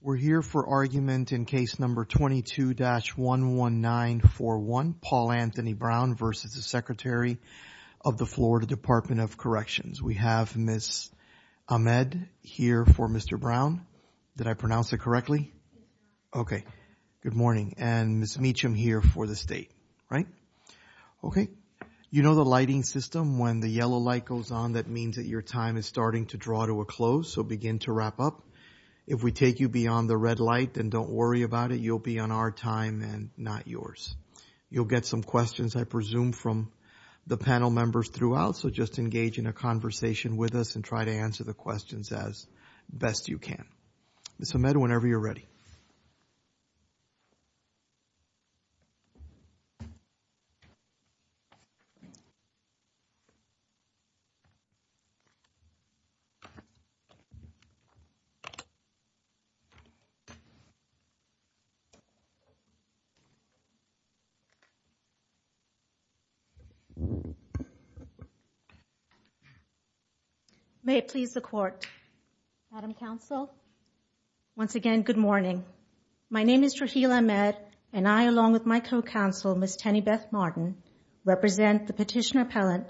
We're here for argument in case number 22-11941, Paul Anthony Brown v. Secretary of the Florida Department of Corrections. We have Ms. Ahmed here for Mr. Brown. Did I pronounce it correctly? Okay. Good morning. And Ms. Meacham here for the state, right? Okay. You know the lighting system, when the yellow light goes on, that means that your time is starting to draw to a close, so begin to wrap up. If we take you beyond the red light, then don't worry about it. You'll be on our time and not yours. You'll get some questions, I presume, from the panel members throughout, so just engage in a conversation with us and try to answer the questions as best you can. Ms. Ahmed, whenever you're ready. May it please the Court. Madam Counsel, once again, good morning. My name is Raheel Ahmed, and I, along with my co-counsel, Ms. Tenny Beth Martin, represent the petitioner appellant,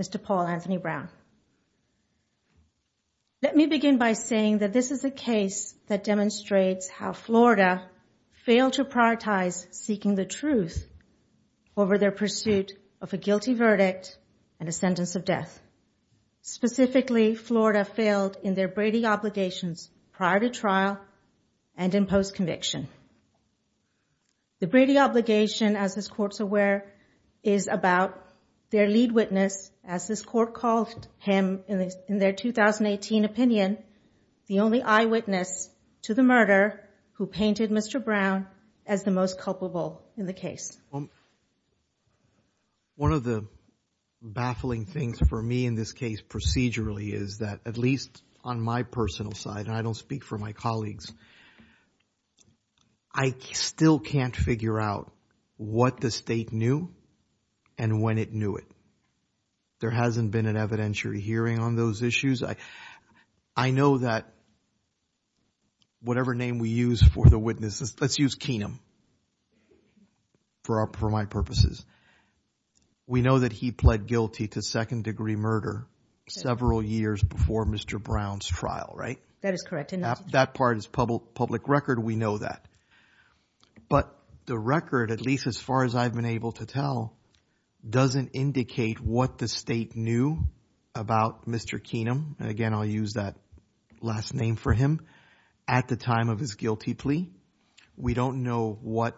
Mr. Paul Anthony Brown. Let me begin by saying that this is a case that demonstrates how Florida failed to prioritize seeking the truth over their pursuit of a guilty verdict and a sentence of death. Specifically, Florida failed in their Brady obligations prior to trial and in post court calls him, in their 2018 opinion, the only eyewitness to the murder who painted Mr. Brown as the most culpable in the case. One of the baffling things for me in this case procedurally is that, at least on my personal side, and I don't speak for my colleagues, I still can't figure out what the state knew and when it knew it. There hasn't been an evidentiary hearing on those issues. I know that whatever name we use for the witnesses, let's use Keenum for my purposes, we know that he pled guilty to second-degree murder several years before Mr. Brown's trial, right? That part is public record, we know that. But the record, at least as far as I've been able to tell, doesn't indicate what the state knew about Mr. Keenum, and again I'll use that last name for him, at the time of his guilty plea. We don't know what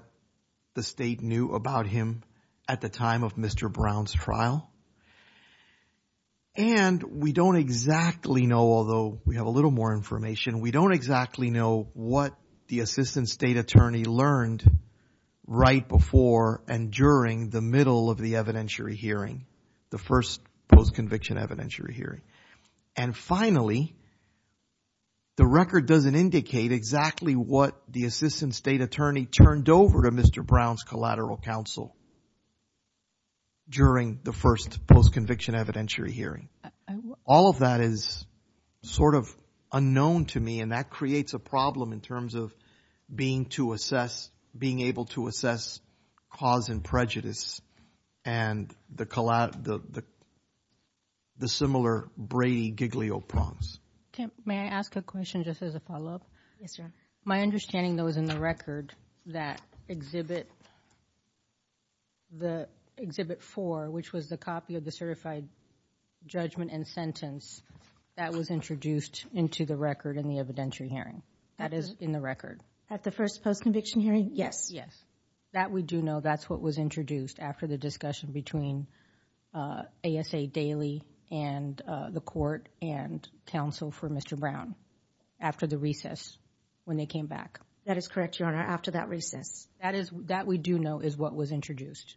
the state knew about him at the time of Mr. Brown's trial. And we don't exactly know, although we have a little more information, we don't exactly know what the assistant state attorney learned right before and during the middle of the evidentiary hearing, the first post-conviction evidentiary hearing. And finally, the record doesn't indicate exactly what the assistant state attorney turned over to Mr. Brown's collateral counsel during the first post-conviction evidentiary hearing. All of that is sort of unknown to me and that creates a problem in terms of being able to assess cause and prejudice and the similar Brady-Giglio prompts. May I ask a question just as a follow-up? Yes, sir. My understanding, though, is in the record that Exhibit 4, which was the copy of the certified judgment and sentence, that was introduced into the record in the evidentiary hearing. That is in the record. At the first post-conviction hearing? Yes, yes. That we do know, that's what was introduced after the discussion between ASA Daily and the court and counsel for Mr. Brown after the recess when they came back. That is correct, Your Honor, after that recess. That is, that we do know is what was introduced.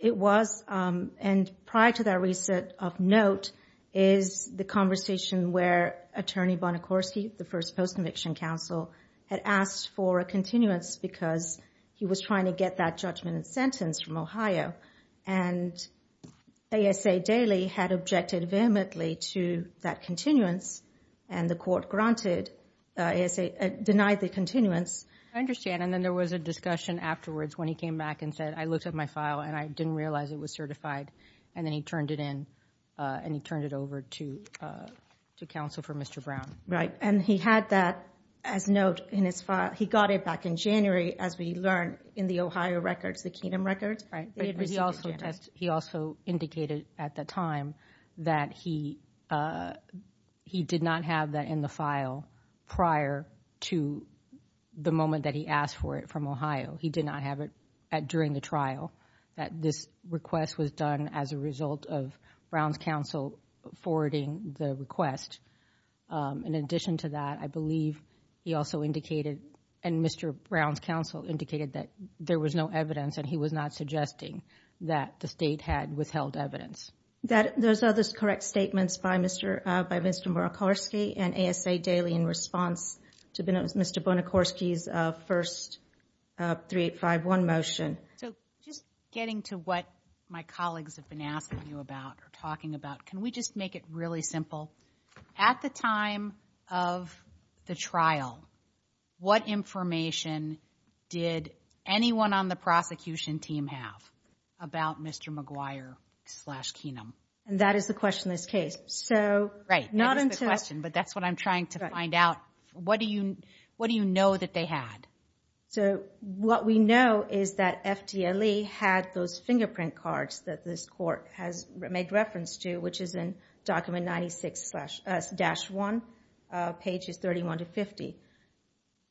It was, and prior to that of note, is the conversation where Attorney Bonacorsi, the first post-conviction counsel, had asked for a continuance because he was trying to get that judgment and sentence from Ohio and ASA Daily had objected vehemently to that continuance and the court granted, denied the continuance. I understand and then there was a discussion afterwards when he came back and said I looked at my file and I didn't realize it was certified and then he turned it and he turned it over to counsel for Mr. Brown. Right and he had that as note in his file. He got it back in January as we learned in the Ohio record, the Keenum record. Right. He also indicated at the time that he did not have that in the file prior to the moment that he asked for it from Ohio. He did not have it during the trial that this request was done as a result of Brown's counsel forwarding the request. In addition to that, I believe he also indicated and Mr. Brown's counsel indicated that there was no evidence and he was not suggesting that the state had withheld evidence. Those are the correct statements by Mr. Bonacorsi and ASA Daily in response to Mr. Bonacorsi's first 3851 motion. So, just getting to what my colleagues have been asking you about or talking about, can we just make it really simple? At the time of the trial, what information did anyone on the prosecution team have about Mr. McGuire slash Keenum? And that is the question that's chased. So, right. Not a question, but that's what I'm trying to find out. What do you know that they had? So, what we know is that FDLE had those fingerprint cards that this court has made reference to, which is in document 96-1, pages 31 to 50.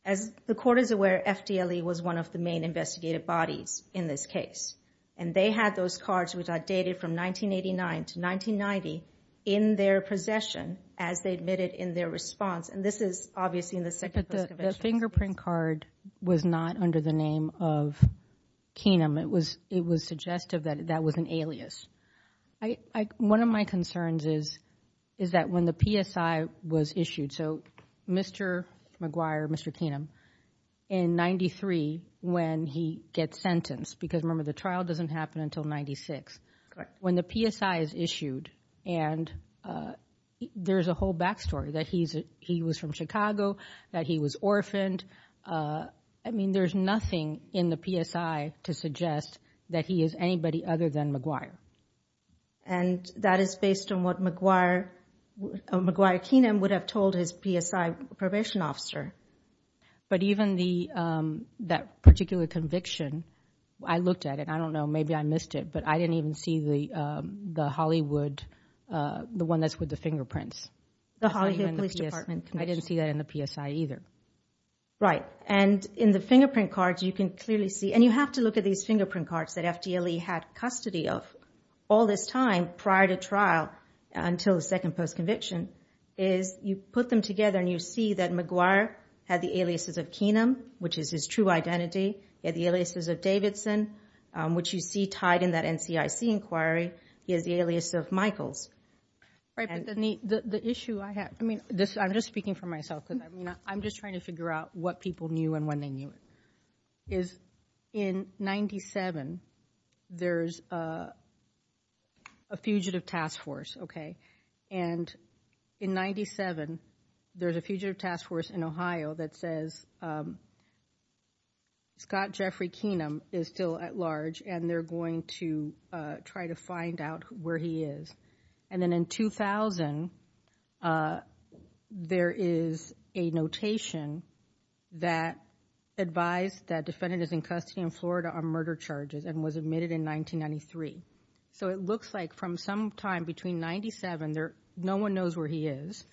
As the court is aware, FDLE was one of the main investigative bodies in this case. And they had those cards which are dated from 1989 to 1990 in their possession as they admitted in their response. And this is obviously in the second. The fingerprint card was not under the name of Keenum. It was suggested that that was an alias. One of my concerns is that when the PSI was issued, so Mr. McGuire, Mr. Keenum, in 93, when he gets sentenced, because remember the trial doesn't happen until 96. When the PSI is issued and there's a whole backstory that he was from Chicago, that he was orphaned. I mean, there's nothing in the PSI to suggest that he is anybody other than McGuire. And that is based on what McGuire, McGuire Keenum would have told his PSI probation officer. But even that particular conviction, I looked at it. I don't know, maybe I missed it, but I didn't even see the Hollywood, the one that's with the fingerprints. The Hollywood Police Department. I didn't see that in the PSI either. Right. And in the fingerprint cards, you can clearly see, and you have to look at these fingerprint cards that FDLE had custody of all this time prior to trial until the second post conviction, is you put them together and you see that McGuire had the aliases of Keenum, which is his true identity. He had the aliases of Davidson, which you see tied in that NCIC inquiry. He has the alias of Michael. Right. The issue I have, I mean, I'm just speaking for myself. I'm just trying to figure out what people knew and when they knew. Is in 97, there's a fugitive task force. Okay. And in 97, there's a fugitive task force in Ohio that says Scott Jeffrey Keenum is still at large and they're going to try to find out where he is. And then in 2000, there is a notation that advised that defendants in custody in Florida are murder charges and was admitted in 1993. So it looks like from some time between 97, no one knows where he is.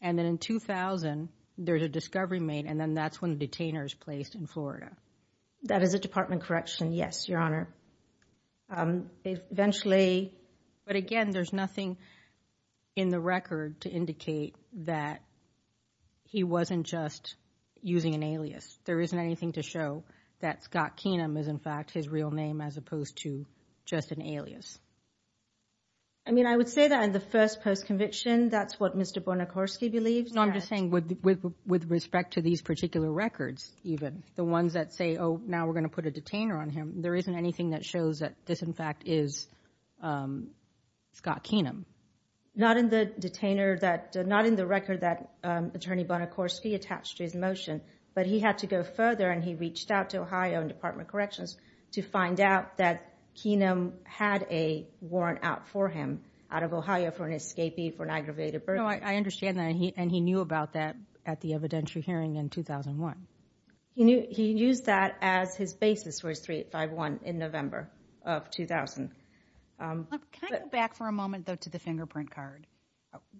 And then in 2000, there's a discovery made and then that's when the detainer is placed in Florida. That is a department correction. Yes, Your Honor. Eventually, but again, there's nothing in the record to indicate that he wasn't just using an alias. There isn't anything to show that Scott Keenum is in fact his real name as opposed to just an alias. I mean, I would say that in the first post-conviction, that's what Mr. Bonacorski believes. No, I'm just saying with respect to these particular records, even the ones that say, oh, now we're going to put a detainer on him. There isn't anything that shows that this in fact is Scott Keenum. Not in the detainer that, not in the record that Attorney Bonacorski attached to his motion, but he had to go further and he reached out to Ohio and to find out that Keenum had a warrant out for him out of Ohio for an escapee for an aggravated burden. No, I understand that. And he knew about that at the evidentiary hearing in 2001. He used that as his basis for his 3851 in November of 2000. Can I go back for a moment though to the fingerprint card?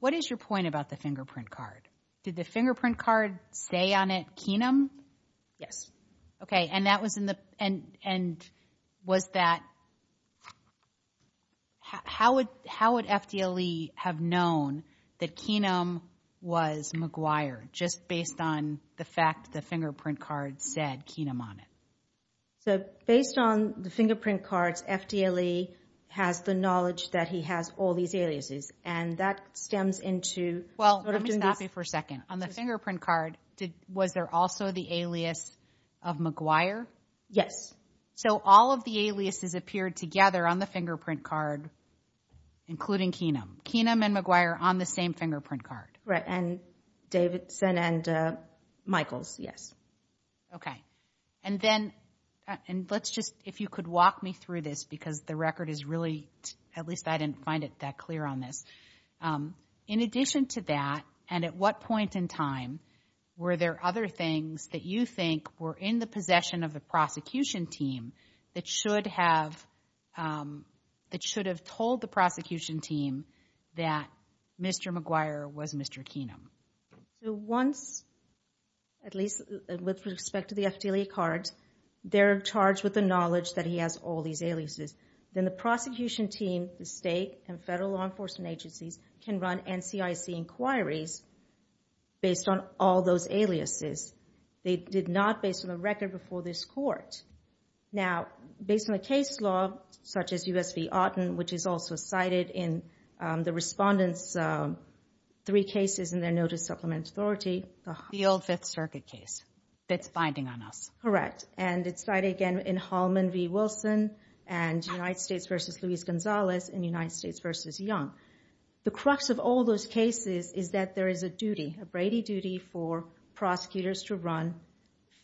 What is your point about the fingerprint card? Did the fingerprint card say on it Keenum? Yes. Okay. And that was in and was that, how would FDLE have known that Keenum was McGuire just based on the fact the fingerprint card said Keenum on it? So based on the fingerprint card, FDLE has the knowledge that he has all these aliases and that stems into- Well, let me stop you for a second. On the yes. So all of the aliases appeared together on the fingerprint card, including Keenum. Keenum and McGuire on the same fingerprint card. Right. And Davidson and Michael. Yes. Okay. And then, and let's just, if you could walk me through this, because the record is really, at least I didn't find it that clear on this. In addition to that, and at what point in time were there other things that you think were in possession of the prosecution team that should have, that should have told the prosecution team that Mr. McGuire was Mr. Keenum? So once, at least with respect to the FDLE card, they're charged with the knowledge that he has all these aliases. Then the prosecution team, the state and federal law enforcement agencies can run NCIC inquiries based on all those aliases. They did not based on the record before this court. Now, based on the case law, such as U.S. v. Otten, which is also cited in the respondent's three cases in their notice of supplement authority- The old Fifth Circuit case that's binding on us. Correct. And it's cited again in Hallman v. Wilson and United States v. Luis Gonzalez and United States v. Young. The crux of all those cases is that there is a duty, a Brady duty, for prosecutors to run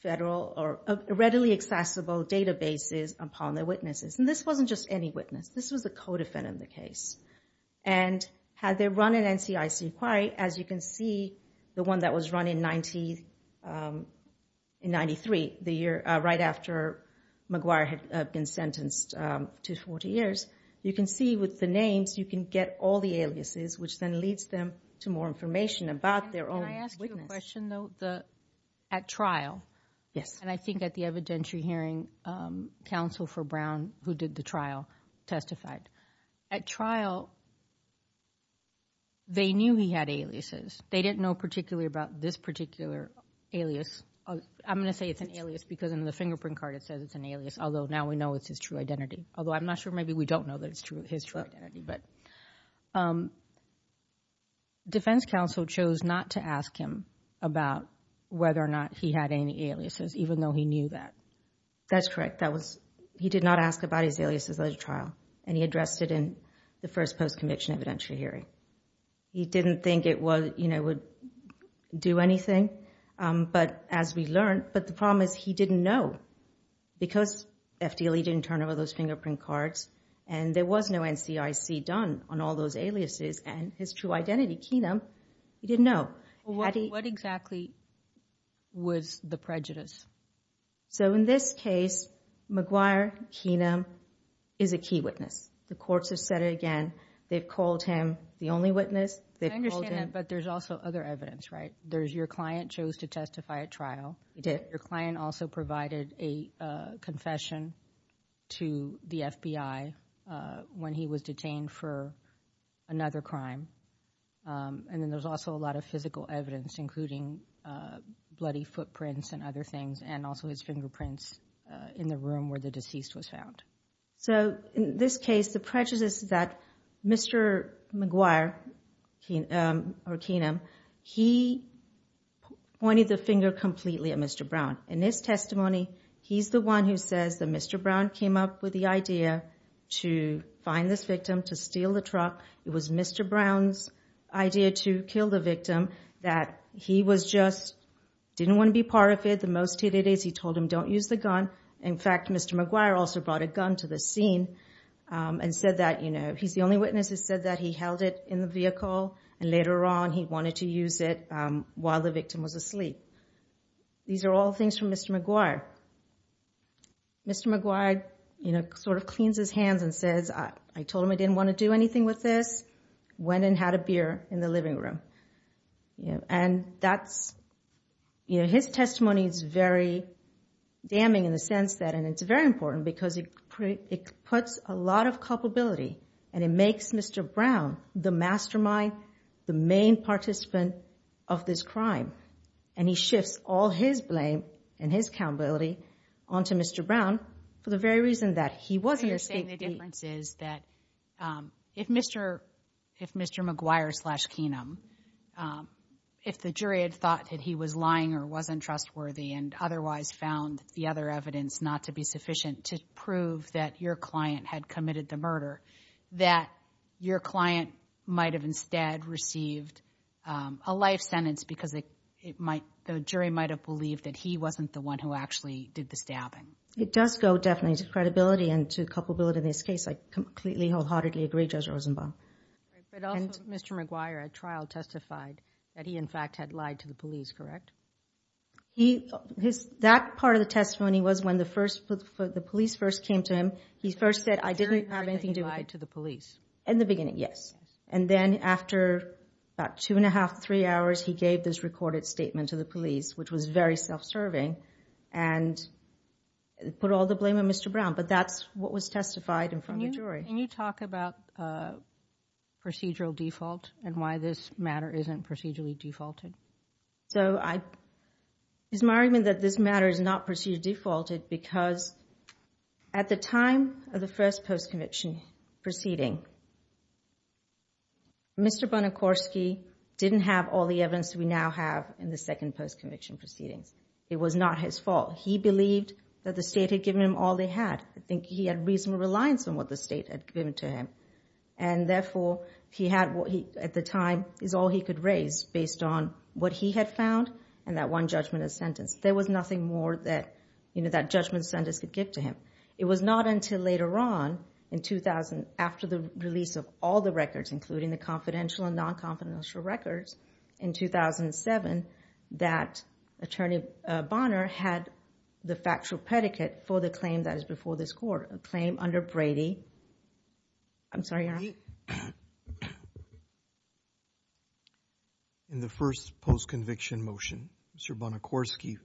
federal or readily accessible databases upon their witnesses. And this wasn't just any witness. This was a co-defendant in the case. And had they run an NCIC inquiry, as you can see, the one that was run in 93, the year right after McGuire had been sentenced to 40 years, you can see with the names, you can get all the aliases, which then leads them to more information about their own witness. Can I ask you a question, though? At trial, and I think at the evidentiary hearing, counsel for Brown, who did the trial, testified. At trial, they knew he had aliases. They didn't know particularly about this particular alias. I'm going to say it's an alias because in the fingerprint card it says it's an alias, although now we know it's his true identity. Although I'm not sure, maybe we don't know his true identity. But defense counsel chose not to ask him about whether or not he had any aliases, even though he knew that. That's correct. He did not ask about his aliases at trial. And he addressed it in the first post-conviction evidentiary hearing. He didn't think it would do anything. But as we learned, but the problem is he didn't know. Because FDLE didn't turn over those fingerprint cards and there was no NCIC done on all those aliases and his true identity, Keenum, he didn't know. What exactly was the prejudice? So in this case, McGuire, Keenum is a key witness. The courts have said it again. They've called him the only witness. I understand that, but there's also other evidence, right? There's your client chose to trial. Your client also provided a confession to the FBI when he was detained for another crime. And then there's also a lot of physical evidence, including bloody footprints and other things, and also his fingerprints in the room where the deceased was found. So in this case, the prejudice is that Mr. McGuire or Keenum, he pointed the finger completely at Mr. Brown. In this testimony, he's the one who says that Mr. Brown came up with the idea to find the victim, to steal the truck. It was Mr. Brown's idea to kill the victim that he was just, didn't want to be part of it. The most he did is he told him, don't use the gun. In fact, Mr. McGuire also brought a gun to the scene and said that, you know, he's the only witness who said that he held it in the vehicle. And later on, he wanted to use it while the victim was asleep. These are all things from Mr. McGuire. Mr. McGuire, you know, sort of cleans his hands and says, I told him I didn't want to do anything with this, went and had a beer in the living room. And that's, you know, testimony is very damning in the sense that, and it's very important because it puts a lot of culpability and it makes Mr. Brown the mastermind, the main participant of this crime. And he shifts all his blame and his culpability onto Mr. Brown for the very reason that he wasn't here. The difference is that if Mr. McGuire slash Keenum, if the jury had thought that he was lying or wasn't trustworthy and otherwise found the other evidence not to be sufficient to prove that your client had committed the murder, that your client might have instead received a life sentence because the jury might have believed that he wasn't the one who actually did the stabbing. It does go definitely to credibility and to culpability of this case. I completely wholeheartedly agree Judge Rosenbaum. But also Mr. McGuire at trial testified that he in fact had lied to the police. That part of the testimony was when the police first came to him. He first said, I didn't have anything to do with it. In the beginning, yes. And then after about two and a half, three hours, he gave this recorded statement to the police, which was very self-serving and put all the blame on Mr. Brown. But that's what was testified in front of the jury. Can you talk about procedural default and why this matter isn't procedurally defaulted? So it's my argument that this matter is not procedurally defaulted because at the time of the first post-conviction proceeding, Mr. Bonacorski didn't have all the evidence we now have in the second post-conviction proceeding. It was not his fault. He believed that the state had given him all they had. I think he had reasonable reliance on what the state had given to him. And therefore, he had what he at the time is all he could raise based on what he had found and that one judgment of sentence. There was nothing more that that judgment sentence could give to him. It was not until later on in 2000, after the release of all the records, including the confidential and non-confidential records in 2007, that attorney Bonner had the factual predicate for the claim that before this court, a claim under Brady. I'm sorry. In the first post-conviction motion, Mr. Bonacorski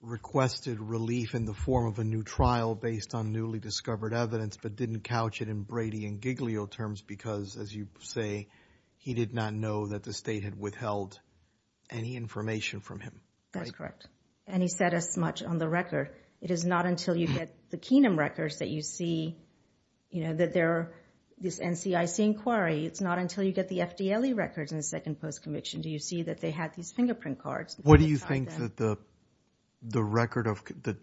requested relief in the form of a new trial based on newly discovered evidence, but didn't couch it in Brady and Giglio terms because as you say, he did not know that the state had withheld any information from him. That's correct. And he said as much on the record. It is not until you get the Keenum records that you see, you know, that there are this NCIC inquiry. It's not until you get the FDLE records in the second post-conviction do you see that they have these fingerprint cards. What do you think that the record of the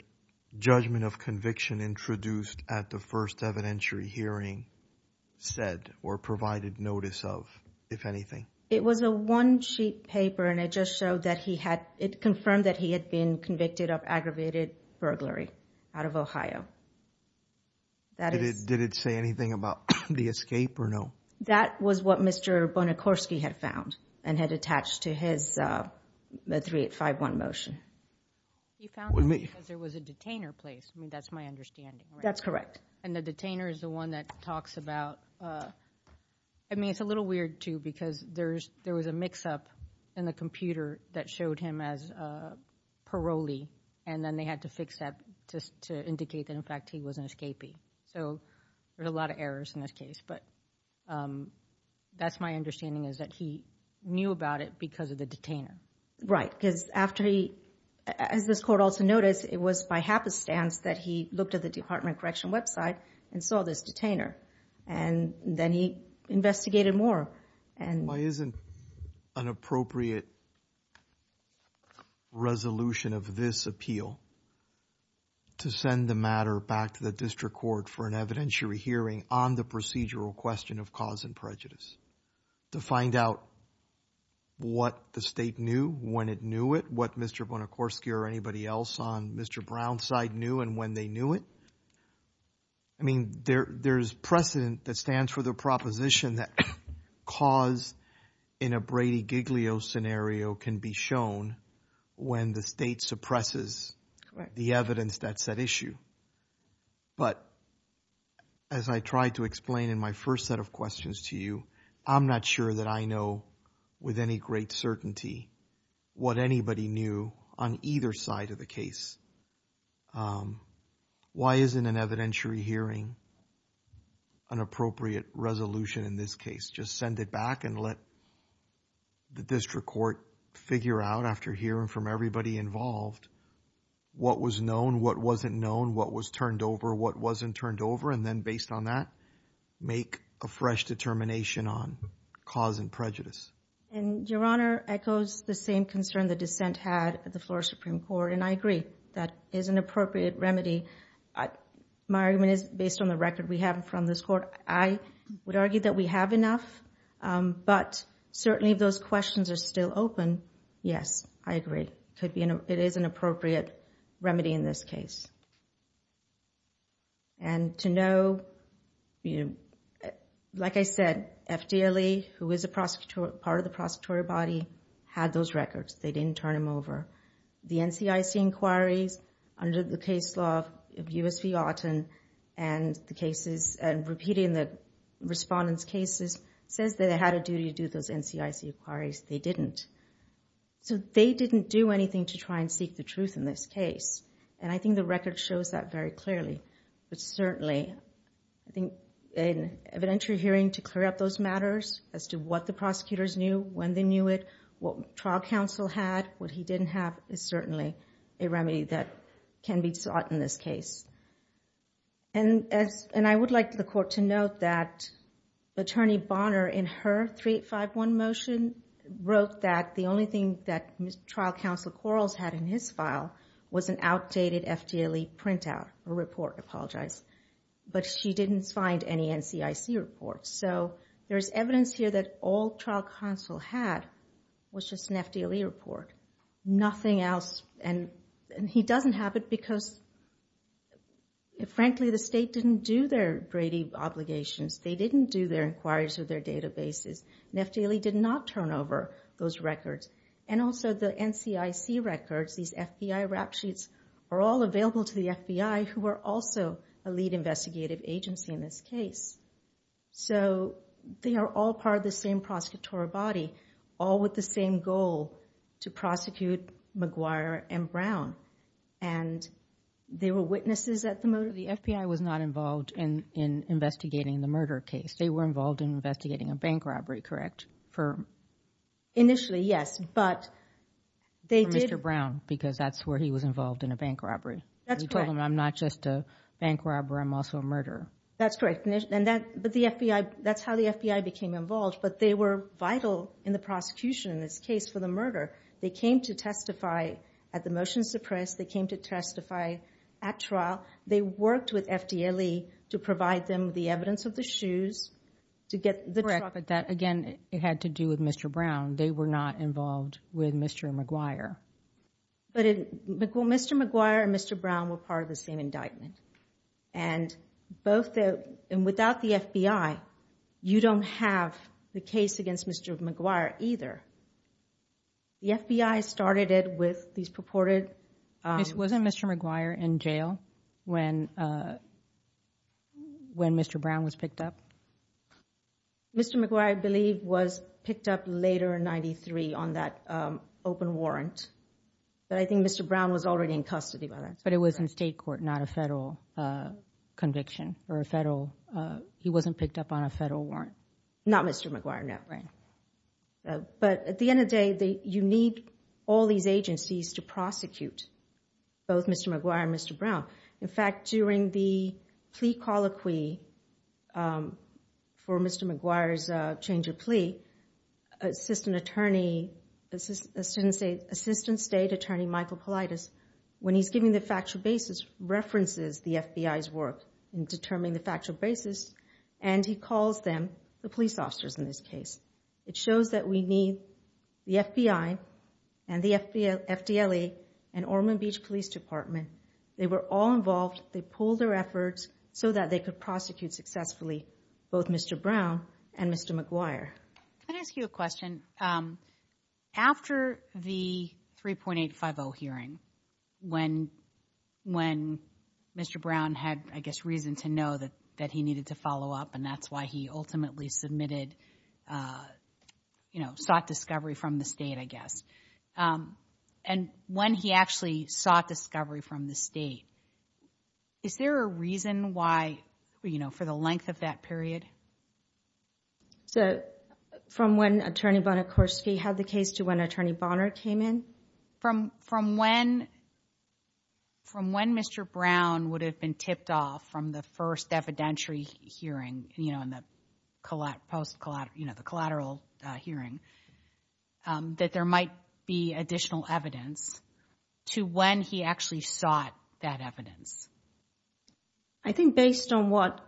judgment of conviction introduced at the first evidentiary hearing said or provided notice of, if anything? It was a one-sheet paper and it just showed that he had, it confirmed that he had been convicted of aggravated burglary out of Ohio. Did it say anything about the escape or no? That was what Mr. Bonacorski had found and had attached to his 3851 motion. You found it because there was a detainer placed. I mean, that's my understanding. That's correct. And the detainer is the one that talks about, I mean, it's a little weird too, because there was a mix-up in the computer that showed him as parolee, and then they had to fix that to indicate that, in fact, he was an escapee. So there are a lot of errors in this case, but that's my understanding is that he knew about it because of the detainer. Right, because after he, as this court also noticed, it was by happenstance that he looked at the Department of Correctional website and saw this detainer, and then he investigated more. Why isn't an appropriate resolution of this appeal to send the matter back to the district court for an evidentiary hearing on the procedural question of cause and prejudice, to find out what the state knew when it knew it, what Mr. Bonacorski or anybody else on Mr. Brown's side knew and when they knew it? I mean, there's precedent that stands for the proposition that cause in a Brady-Giglio scenario can be shown when the state suppresses the evidence that's at issue. But as I tried to explain in my first set of questions to you, I'm not sure that I know with any great certainty what anybody knew on either side of the case. Why isn't an evidentiary hearing an appropriate resolution in this case? Just send it back and let the district court figure out after hearing from everybody involved what was known, what wasn't known, what was turned over, what wasn't turned over, and then based on that, make a fresh determination on cause and prejudice. And, Your Honor, echoes the same concern the defense had at the Florida Supreme Court, and I agree. That is an appropriate remedy. My argument is based on the record we have from this court. I would argue that we have enough, but certainly those questions are still open. Yes, I agree. It is an appropriate remedy in this case. And to know, like I said, FDLE, who is part of the prosecutorial body, had those records. They didn't turn them over. The NCIC inquiries under the case law of U.S.C. Auten and the cases, and repeating the respondents' cases, says they had a duty to do those NCIC inquiries. They didn't. So they didn't do anything to try and seek the truth in this case, and I think the record shows that very clearly. But certainly, I think an evidentiary hearing to those matters, as to what the prosecutors knew, when they knew it, what trial counsel had, what he didn't have, is certainly a remedy that can be sought in this case. And I would like the court to note that Attorney Bonner, in her 3851 motion, wrote that the only thing that trial counsel Quarles had in his file was an outdated FDLE printout or report. I apologize. But she didn't find any NCIC reports. So there's evidence here that all trial counsel had was just an FDLE report. Nothing else. And he doesn't have it because, frankly, the state didn't do their grading obligations. They didn't do their inquiries or their databases. And FDLE did not turn over those records. And also, the NCIC records, these FBI rap sheets, are all available to the FBI, who are also a lead investigative agency in this case. So they are all part of the same prosecutorial body, all with the same goal, to prosecute McGuire and Brown. And they were witnesses at the motive. The FBI was not involved in investigating the murder case. They were involved in investigating a bank robbery, correct? Initially, yes. But they did... Because that's where he was involved in a bank robbery. You told them, I'm not just a bank robber. I'm also a murderer. That's right. And that's how the FBI became involved. But they were vital in the prosecution in this case for the murder. They came to testify at the motion suppressed. They came to testify at trial. They worked with FDLE to provide them the evidence of the shoes to get the... Correct. But that, again, it had to do with Mr. Brown. They were not involved with Mr. McGuire. But Mr. McGuire and Mr. Brown were part of the same indictment. And without the FBI, you don't have the case against Mr. McGuire either. The FBI started it with these purported... This wasn't Mr. McGuire in jail when Mr. Brown was picked up? Mr. McGuire, I believe, was picked up later in 93 on that open warrant. But I think Mr. Brown was already in custody. But it was in state court, not a federal conviction or a federal... He wasn't picked up on a federal warrant? Not Mr. McGuire, no. But at the end of the day, you need all these agencies to prosecute both Mr. McGuire and Mr. Brown. In fact, during the plea colloquy for Mr. McGuire's change of plea, Assistant State Attorney Michael Kalaitis, when he's giving the factual basis, references the FBI's work in determining the factual basis, and he calls them the police department. They were all involved. They pulled their efforts so that they could prosecute successfully both Mr. Brown and Mr. McGuire. Can I ask you a question? After the 3.850 hearing, when Mr. Brown had, I guess, reason to know that he needed to follow up, and that's why he ultimately sought discovery from the state, I guess. And when he actually sought discovery from the state, is there a reason why, for the length of that period? From when Attorney Bonacoste had the case to when Attorney Bonner came in? From when Mr. Brown would have been tipped off from the first evidentiary hearing, post-collateral, you know, the collateral hearing, that there might be additional evidence to when he actually sought that evidence? I think based on what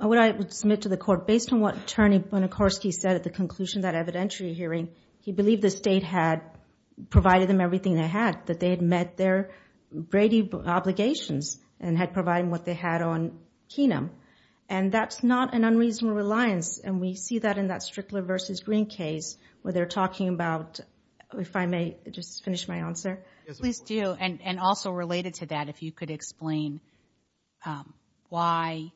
I would submit to the court, based on what Attorney Bonacoste said at the conclusion of that evidentiary hearing, he believed the state had provided them everything they had, that they had met their Brady obligations, and had provided what they had on Kena. And that's not an unreasonable reliance, and we see that in that Strickler v. Green case, where they're talking about, if I may just finish my answer. Yes, please do. And also related to that, if you could explain why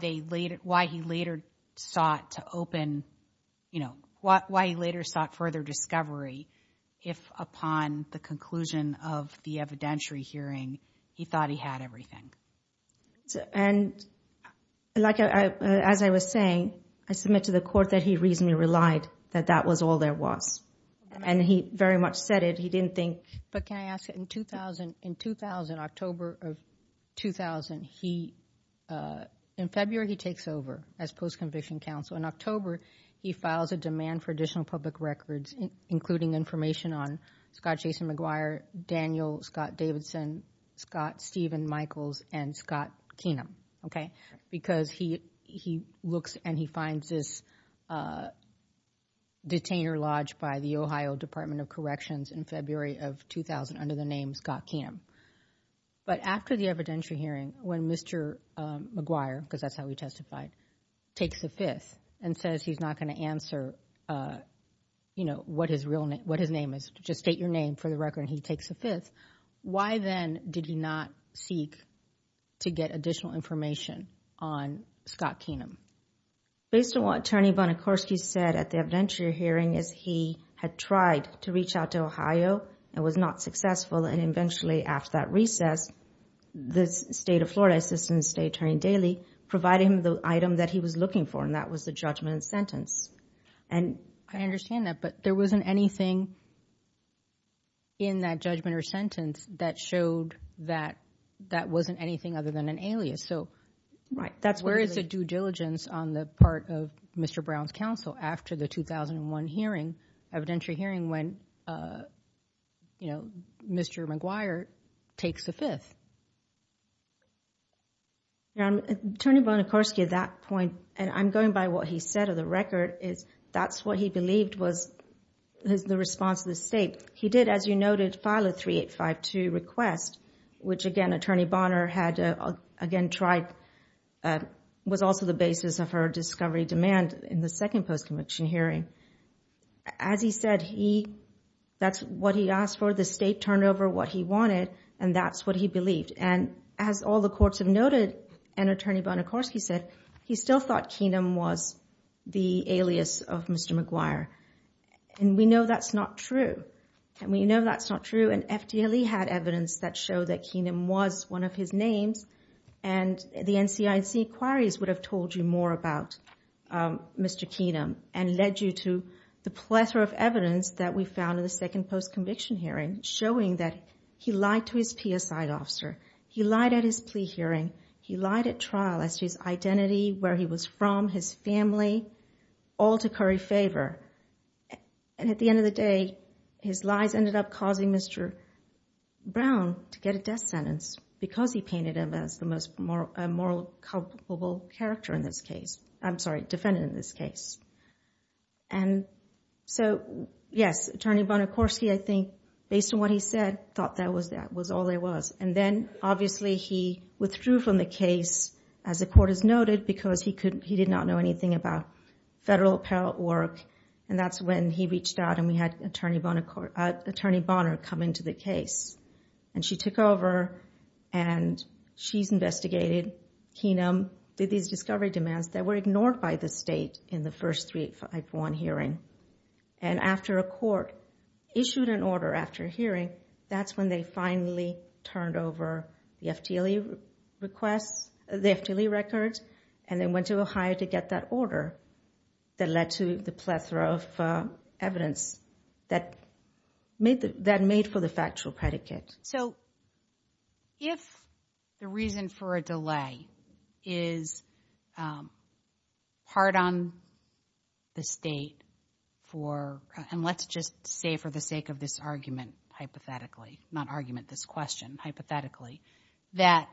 they later, why he later sought to open, you know, why he later sought further discovery, if upon the conclusion of the evidentiary hearing, he thought he had everything. And like, as I was saying, I submit to the court that he reasonably relied that that was all there was. In 2000, October of 2000, he, in February, he takes over as post-conviction counsel. In October, he files a demand for additional public records, including information on Scott Jason McGuire, Daniel Scott Davidson, Scott Stephen Michaels, and Scott Keenum, okay? Because he looks and he finds this detainer lodged by the Ohio Department of Corrections in February of 2000 under the name Scott Keenum. But after the evidentiary hearing, when Mr. McGuire, because that's how he testified, takes the fifth and says he's not going to answer, you know, what his real name, what his name is, just state your name for the record, and he takes the fifth. Why then did he not seek to get additional information on Scott Keenum? Based on what Attorney Bonacorski said at the evidentiary hearing is he had tried to reach out to Ohio and was not successful, and eventually, after that recess, the state of Florida, Assistant State Attorney Daley, provided him the item that he was looking for, and that was the judgment and sentence. And I understand that, but there wasn't anything in that judgment or sentence that showed that that wasn't anything other than an alias. So that's where is the due diligence on the part of Mr. Brown's counsel after the 2001 hearing, evidentiary hearing, when, you know, Mr. McGuire takes the fifth. Now, Attorney Bonacorski at that point, and I'm going by what he said of the record, is that's what he believed was the response of the state. He did, as you noted, file a 3852 request, which again, Attorney Bonner had again tried, was also the basis of her discovery demand in the second post-conviction hearing. As he said, he, that's what he asked for, the state turned over what he wanted, and that's what he believed. And as all the courts have noted, and Attorney Bonacorski said, he still thought Keenum was the alias of Mr. McGuire. And we know that's not true, and we know that's not true, and FDLE had evidence that showed that Keenum was one of his names, and the NCIC inquiries would have told you more about Mr. Keenum, and led you to the plethora of evidence that we found in the second post-conviction hearing, showing that he lied to his PSI officer, he lied at his plea hearing, he lied at trial, at his identity, where he was from, his family, all to curry favor. And at the end of the day, his lies ended up causing Mr. Brown to get a death sentence, because he painted him as the most moral, comfortable character in this case, I'm sorry, defendant in this case. And so, yes, Attorney Bonacorski, I think, based on what he said, thought that was all there was. And then, obviously, he withdrew from the case, as the court has noted, because he did not know about federal appellate work, and that's when he reached out, and we had Attorney Bonner come into the case, and she took over, and she investigated Keenum, did these discovery demands that were ignored by the state in the first 351 hearing, and after a court issued an order after hearing, that's when they finally turned over the FDLE request, the FDLE records, and then went to Ohio to get that order that led to the plethora of evidence that made for the factual predicate. So, if the reason for a delay is hard on the state for, and let's just stay for the sake of this argument, hypothetically, not argument, this question, hypothetically, that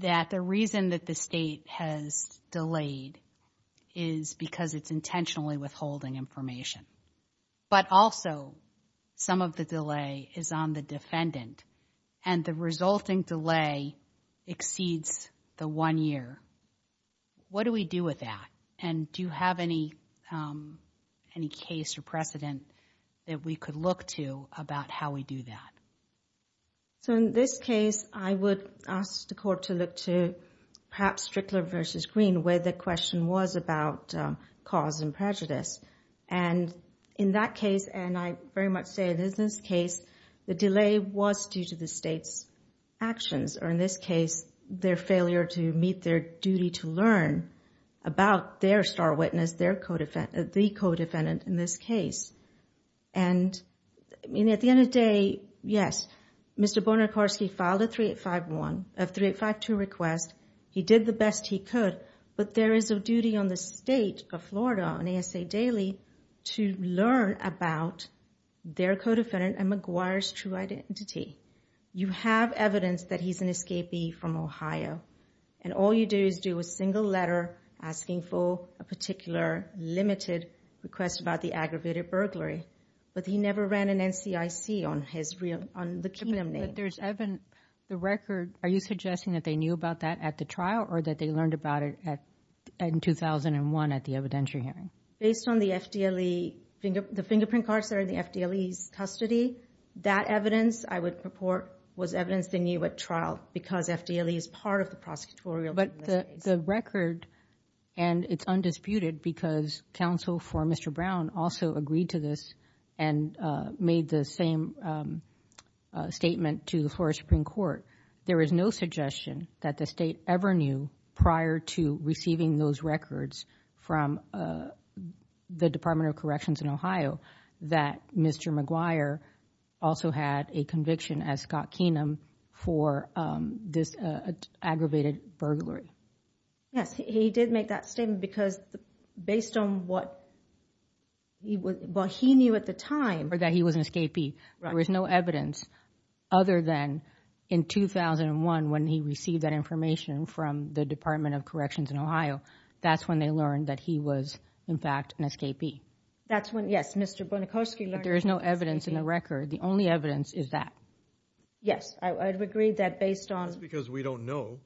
the reason that the state has delayed is because it's intentionally withholding information, but also some of the delay is on the defendant, and the resulting delay exceeds the one year. What do we do with that, and do you have any case or precedent that we could look to about how we do that? So, in this case, I would ask the court to look to perhaps Strickler versus Green, where the question was about cause and prejudice, and in that case, and I very much say in this case, the delay was due to the state's actions, or in this case, their failure to meet their duty to learn about their star witness, their co-defendant, the co-defendant in this case, and I mean, at the end of the day, yes, Mr. Bonacorski filed a 3852 request. He did the best he could, but there is a duty on the state of Florida on ASA Daily to learn about their co-defendant and McGuire's true identity. You have evidence that he's an escapee from Ohio, and all you do is do a single letter asking for a particular limited request about the aggravated burglary, but he never ran an NCIC on his real, on the kingdom name. But there's evidence, the record, are you suggesting that they knew about that at the trial, or that they learned about it at, in 2001 at the evidentiary hearing? Based on the FDLE, the fingerprint cards that are in the FDLE's custody, that evidence, I would report, was evidence they knew at trial, because FDLE is part of the prosecutorial. But the record, and it's undisputed, because counsel for Mr. Brown also agreed to this and made the same statement to the Florida Supreme Court. There is no suggestion that the state ever knew, prior to receiving those records from the Department of Corrections in Ohio, that Mr. McGuire also had a conviction as Scott Keenum for this aggravated burglary. Yes, he did make that statement, because based on what he was, what he knew at the time, that he was an escapee, there was no evidence, other than in 2001, when he received that information from the Department of Corrections in Ohio, that's when they learned that he was, in fact, an escapee. That's when, yes, there is no evidence in the record. The only evidence is that. Yes, I would agree that based on... Because we don't know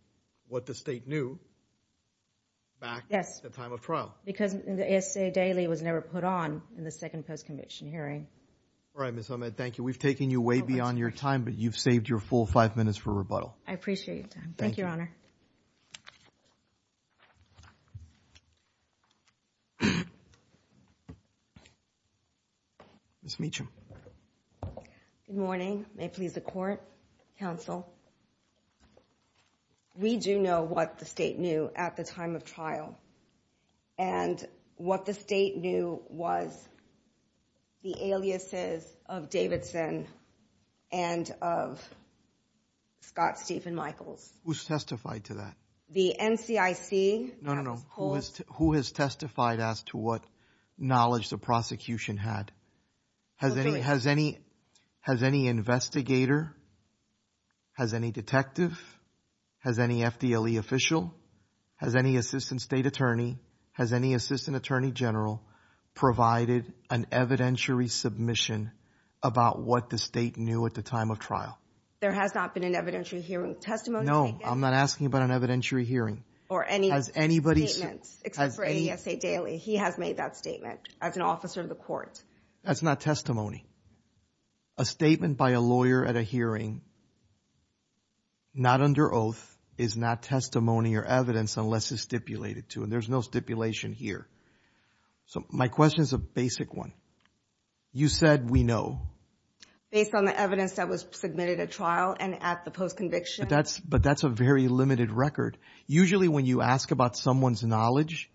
what the state knew back at the time of trial. Because the FDLE was never put on in the second post-condition hearing. All right, Ms. Ahmed, thank you. We've taken you way beyond your time, but you've saved your full five minutes for rebuttal. I appreciate it. Thank you, Your Honor. Ms. Meacham. Good morning. May it please the court, counsel. We do know what the state knew at the time of trial, and what the state knew was the aliases of Davidson and of Scott Stephen Michaels. Who's testified to that? The NCIC. No, no, no. Who has testified as to what knowledge the prosecution had? Has any investigator, has any detective, has any FDLE official, has any assistant state attorney, has any assistant attorney general provided an evidentiary submission about what the state knew at the time of trial? There has not been an evidentiary hearing testimony. No, I'm not asking about an evidence statement. He has made that statement as an officer of the court. That's not testimony. A statement by a lawyer at a hearing, not under oath, is not testimony or evidence unless it's stipulated to, and there's no stipulation here. So my question is a basic one. You said we know. Based on the evidence that was submitted at trial and at the post-conviction. But that's a very limited record. Usually when you ask about someone's knowledge,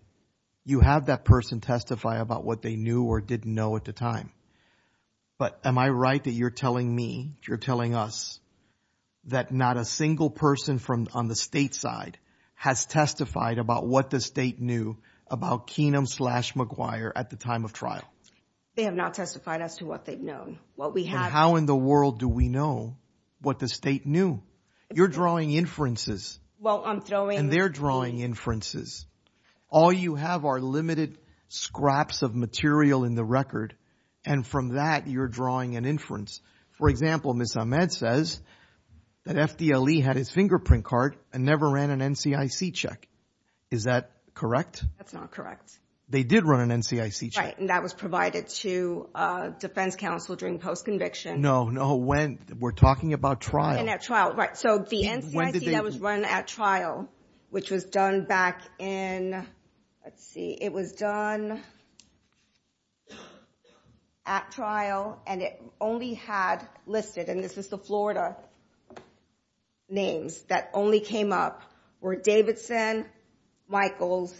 you have that person testify about what they knew or didn't know at the time. But am I right that you're telling me, you're telling us, that not a single person from on the state side has testified about what the state knew about Keenum-slash-McGuire at the time of trial? They have not testified as to what they've known. What we have. And how in the world do we know what the state knew? You're drawing inferences. And they're drawing inferences. All you have are limited scraps of material in the record. And from that, you're drawing an inference. For example, Ms. Ahmed says that FDLE had a fingerprint card and never ran an NCIC check. Is that correct? That's not correct. They did run an NCIC check. And that was provided to defense counsel during post-conviction. No, no. We're talking about trial. And at trial. Right. So the NCIC was run at trial, which was done back in, let's see, it was done at trial. And it only had listed, and this is the Florida names that only came up, were Davidson, Michaels,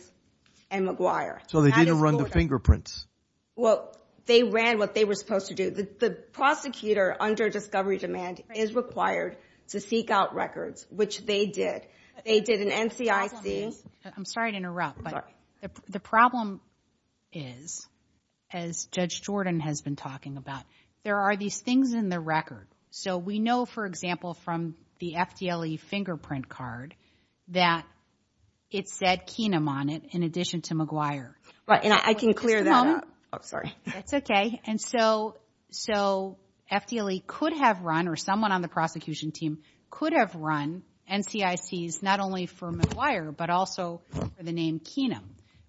and McGuire. So they didn't run the fingerprints? Well, they ran what they were supposed to do. The prosecutor under discovery demand is required to seek out records, which they did. They did an NCIC. I'm sorry to interrupt, but the problem is, as Judge Jordan has been talking about, there are these things in the record. So we know, for example, from the FDLE fingerprint card, that it said Keenum on it, in addition to McGuire. And I can clear that up. Sorry. That's okay. And so FDLE could have run, or someone on the prosecution team could have run NCICs, not only for McGuire, but also for the name Keenum.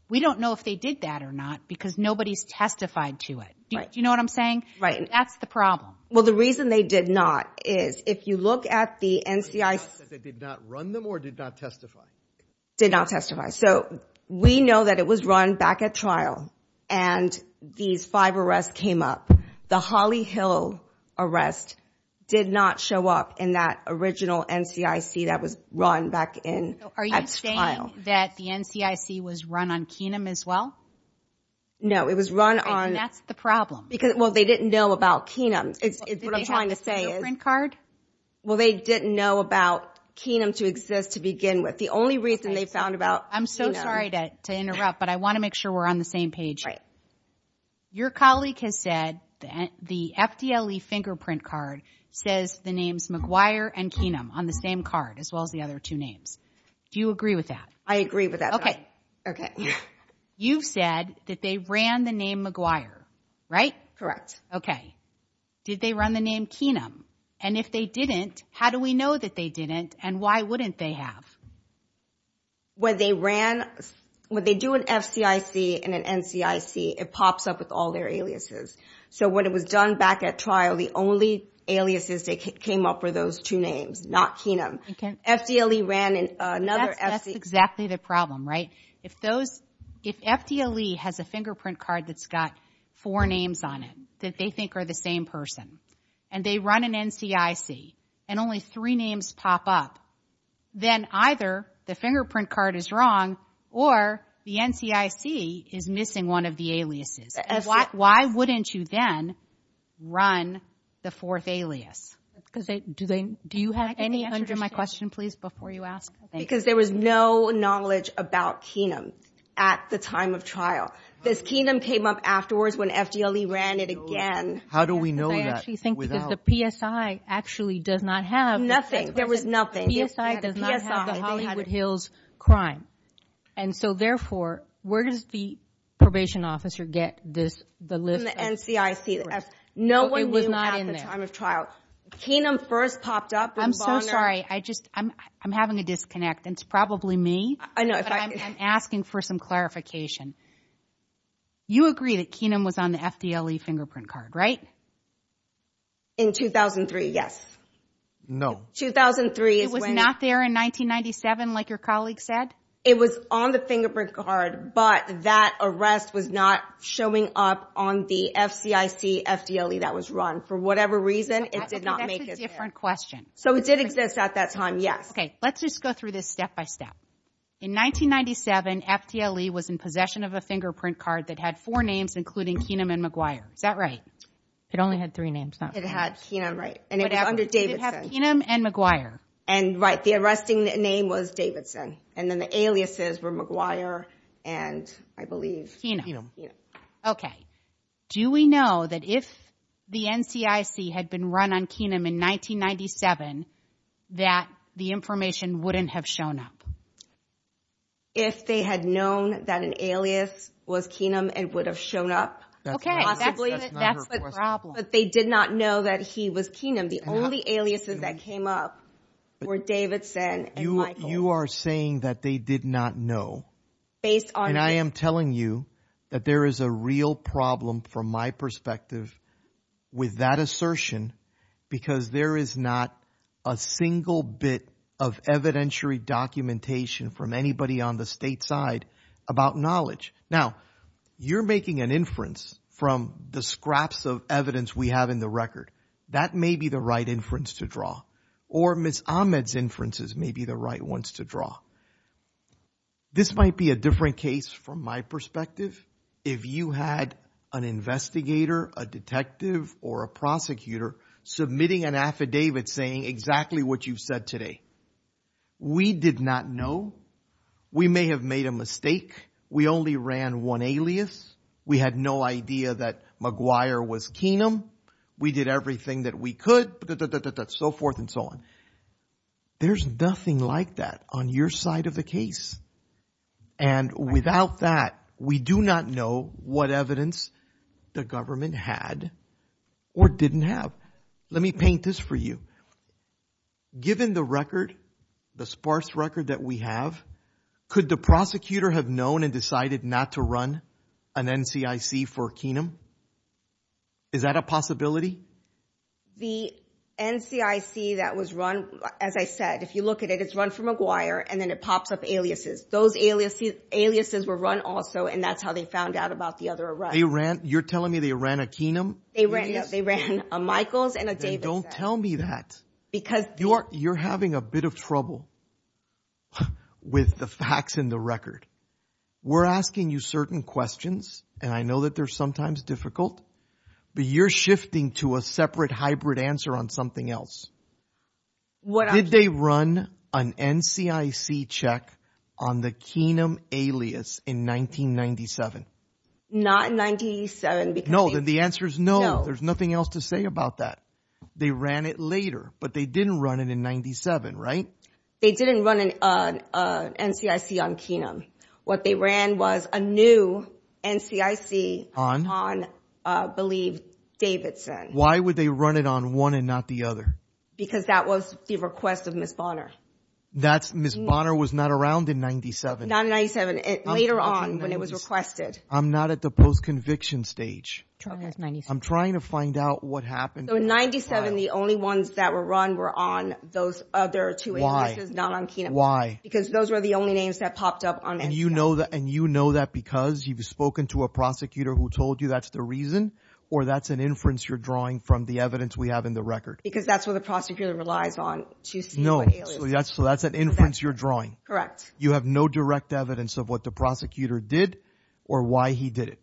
We don't know if they did that or not, because nobody's testified to it. You know what I'm saying? That's the problem. Well, the reason they did not is, if you look at the NCIC... They did not run them or did not testify? Did not testify. So we know that it was run back at trial, and these five arrests came up. The Holly Hill arrest did not show up in that original NCIC that was run back at trial. Are you saying that the NCIC was run on Keenum as well? No, it was run on... And that's the problem. Well, they didn't know about Keenum, is what I'm trying to say. Did they have a fingerprint card? Well, they didn't know about Keenum to exist to begin with. The only reason they found about Keenum... I'm so sorry to interrupt, but I want to make sure we're on the same page. Your colleague has said that the FDLE fingerprint card says the names McGuire and Keenum on the same card, as well as the other two names. Do you agree with that? I agree with that. Okay. You said that they ran the name McGuire, right? Correct. Okay. Did they run the name Keenum? And if they didn't, how do we know that they didn't, and why wouldn't they have? When they do an FDIC and an NCIC, it pops up with all their aliases. So when it was done back at trial, the only aliases that came up were those two names, not Keenum. FDLE ran another... That's exactly the problem, right? If FDLE has a fingerprint card that's got four names on it, that they think are the same person, and they run an NCIC, and only three names pop up, then either the fingerprint card is wrong, or the NCIC is missing one of the aliases. Why wouldn't you then run the fourth alias? Do you have any answer to my question, please, before you ask? Because there was no knowledge about Keenum at the time of trial. This Keenum came up afterwards when FDLE ran it again. How do we know that? I actually think that the PSI actually does not have... Nothing. There was nothing. PSI does not have the Hollywood Hills crime. And so, therefore, where does the probation officer get the list? From the NCIC. No one knew that at the time of trial. Keenum first popped up. I'm so sorry. I'm having a disconnect. It's probably me. I'm asking for some clarification. You agree that Keenum was on the FDLE fingerprint card, right? In 2003, yes. 2003. It was not there in 1997, like your colleague said? It was on the fingerprint card, but that arrest was not showing up on the FDIC-FDLE that was run. For whatever reason, it did not make it there. That's a different question. So it did exist at that time, yes. Okay. Let's just go through this step by step. In 1997, FDLE was in possession of a fingerprint card that had four names, including Keenum and McGuire. Is that right? It only had three names. It had Keenum, right. And it was under Davidson. It had Keenum and McGuire. And, right, the arresting name was Davidson. And then the aliases were McGuire and, I believe... Keenum. Keenum, yes. Okay. Do we know that if the NCIC had been run on Keenum in 1997, that the information wouldn't have shown up? If they had known that an alias was Keenum, it would have shown up? Okay. But they did not know that he was Keenum. The only aliases that came up were Davidson and McGuire. You are saying that they did not know. And I am telling you that there is a real problem, from my perspective, with that assertion, because there is not a single bit of evidentiary documentation from anybody on the state side about knowledge. Now, you are making an inference from the scraps of evidence we have in the record. That may be the right inference to draw. Or Ms. Ahmed's inferences may be the right ones to draw. This might be a different case from my perspective. If you had an investigator, a detective, or a prosecutor submitting an affidavit saying exactly what you said today, we did not know. We may have made a mistake. We only ran one alias. We had no idea that McGuire was Keenum. We did everything that we could, so forth and so on. There is nothing like that on your side of the case. And without that, we do not know what evidence the government had or did not have. Let me paint this for you. Given the record, the sparse record that we have, could the prosecutor have known and decided not to run an NCIC for Keenum? Is that a possibility? The NCIC that was run, as I said, if you look at it, it is run for McGuire, and then it pops up aliases. Those aliases were run also, and that is how they found out about the other Iranians. You are telling me they ran a Keenum? They ran a Michaels and a Davis. Then do not tell me that. You are having a bit of trouble with the facts in the record. We are asking you certain questions, and I know that they are sometimes difficult. But you are shifting to a separate hybrid answer on something else. Did they run an NCIC check on the Keenum alias in 1997? Not in 1997. No, the answer is no. There is nothing else to say about that. They ran it later, but they did not run it in 1997, right? They did not run an NCIC on Keenum. What they ran was a new NCIC on I believe Davidson. Why would they run it on one and not the other? Because that was the request of Ms. Bonner. Ms. Bonner was not around in 1997? Not in 1997. Later on when it was requested. I am not at the post-conviction stage. I am trying to find out what happened. In 1997, the only ones that were run were on those other two addresses, not on Keenum. Why? Because those were the only names that popped up on NCIC. You know that because you have spoken to a prosecutor who told you that is the reason or that is an inference you are drawing from the evidence we have in the record? Because that is what the prosecutor relies on. That is an inference you are drawing? Correct. You have no direct evidence of what the prosecutor did or why he did it?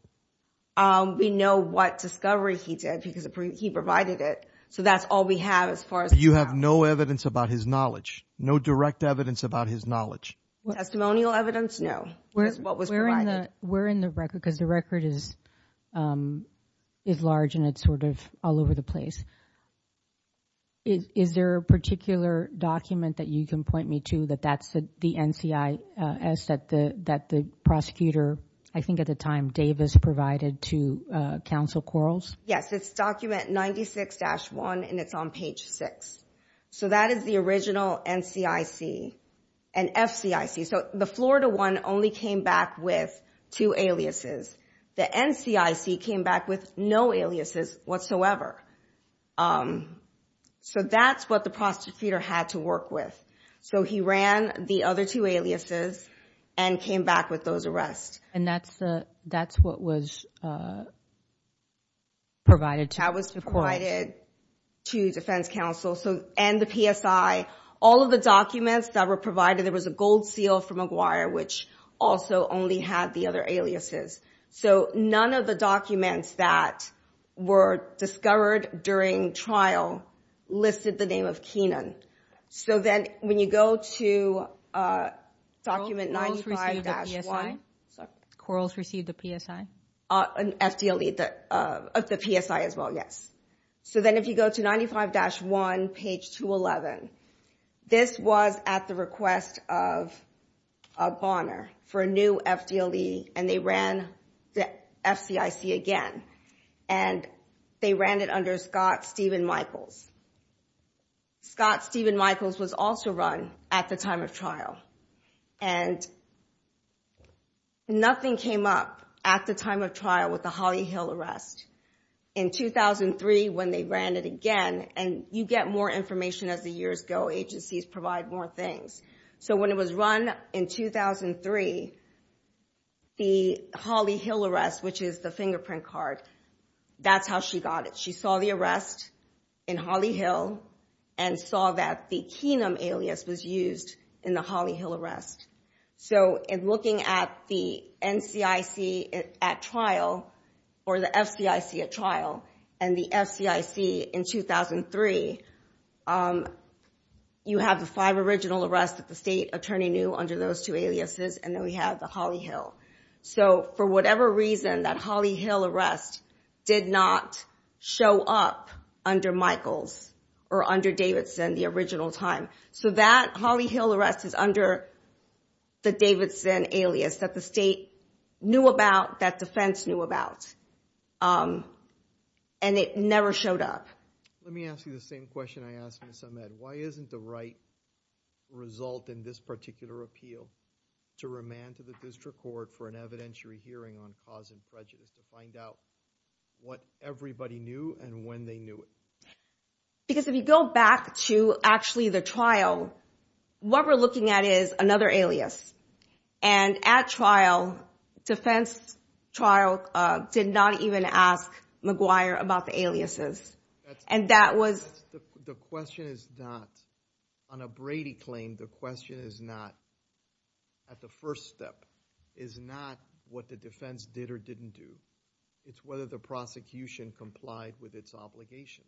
We know what discovery he did because he provided it. That is all we have. You have no evidence about his knowledge? No direct evidence about his knowledge? Testimonial evidence? No. We are in the record because the record is large and it is sort of all over the place. Is there a particular document that you can point me to that is the NCIS that the prosecutor, I think at the time, Davis provided to counsel Quarles? Yes, it is document 96-1 and it is on page 6. That is the original NCIC and FCIC. The Florida one only came back with two aliases. The NCIC came back with no aliases whatsoever. That is what the prosecutor had to work with. He ran the other two aliases and came back with those arrests. And that is what was provided? That was provided to the defense counsel and the PSI. All of the documents that were provided, there was a gold seal from McGuire which also only had the other aliases. So, none of the documents that were discovered during trial listed the name of Keenan. So, then when you go to document 95-1. Quarles received the PSI? An FDLE of the PSI as well, yes. So, then if you go to 95-1, page 211, this was at the request of Bonner for a new FDLE and they ran the FCIC again. And they ran it under Scott Stephen Michaels. Scott Stephen Michaels was also run at the time of trial. And nothing came up at the time of trial with the Holly Hill arrest. In 2003, when they ran it again, and you get more information as the years go, agencies provide more things. So, when it was run in 2003, the Holly Hill arrest, which is the fingerprint card, that is how she got it. She saw the arrest in Holly Hill and saw that the Keenan alias was used in the Holly Hill arrest. So, in looking at the NCIC at trial or the FCIC at trial and the FCIC in 2003, you have the five original arrests that the state attorney knew under those two aliases and then we have the Holly Hill. So, for whatever reason, that Holly Hill arrest did not show up under Michaels or under Davidson the original time. So, that Holly Hill arrest is under the Davidson alias that the state knew about, that defense knew about. And it never showed up. Let me ask you the same question I asked Ms. Ahmed. Why isn't the right result in this particular appeal to remand to the district court for an evidentiary hearing on cause and prejudice to find out what everybody knew and when they knew it? Because if you go back to actually the trial, what we're looking at is another alias. And at trial, defense trial did not even ask about the aliases. And that was... The question is not, on a Brady claim, the question is not, at the first step, is not what the defense did or didn't do. It's whether the prosecution complied with its obligation.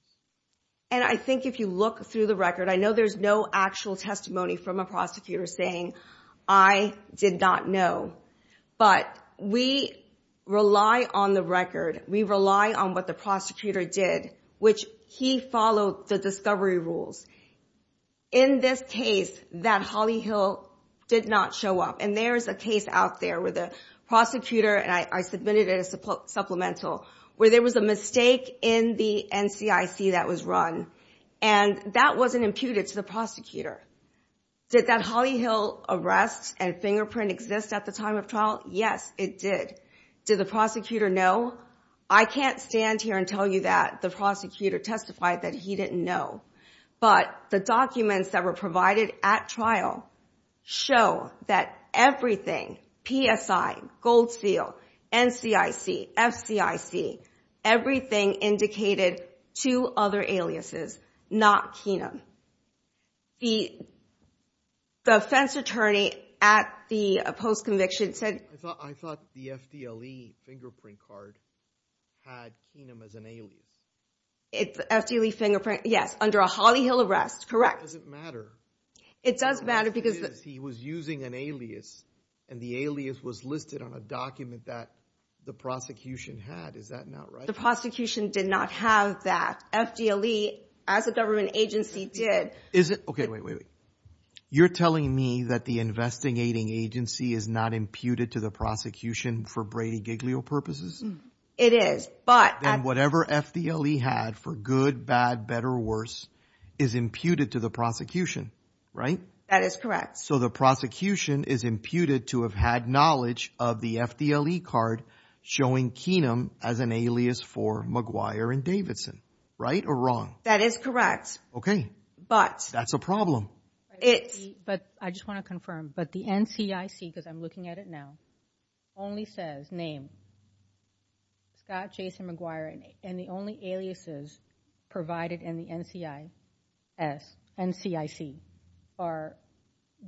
And I think if you look through the record, I know there's no actual testimony from a prosecutor saying, I did not know. But we rely on the record. We rely on what the prosecutor did, which he followed the discovery rules. In this case, that Holly Hill did not show up. And there's a case out there where the prosecutor, and I submitted a supplemental, where there was a mistake in the NCIC that was run. And that wasn't imputed to the prosecutor, did that Holly Hill arrest and fingerprint exist at the time of trial? Yes, it did. Did the prosecutor know? I can't stand here and tell you that the prosecutor testified that he didn't know. But the documents that were provided at trial show that everything, PSI, Gold Seal, NCIC, FCIC, everything indicated two other aliases, not Keenum. The defense attorney at the post-conviction said- I thought the FDLE fingerprint card had Keenum as an alias. It's FDLE fingerprint, yes, under a Holly Hill arrest, correct. It doesn't matter. It doesn't matter because- It is. He was using an alias, and the alias was listed on a document that the prosecution had. Is that not right? The prosecution did not have that. FDLE, as a government agency, did. Is it? Okay, wait, wait, wait. You're telling me that the investigating agency is not imputed to the prosecution for Brady Giglio purposes? It is, but- Then whatever FDLE had for good, bad, better, worse, is imputed to the prosecution, right? That is correct. So the prosecution is imputed to have had knowledge of the FDLE card showing Keenum as an alias for McGuire and Davidson, right, or wrong? That is correct. Okay, that's a problem. But I just want to confirm, but the NCIC, because I'm looking at it now, only says name, Scott Jason McGuire, and the only aliases provided in the NCIC are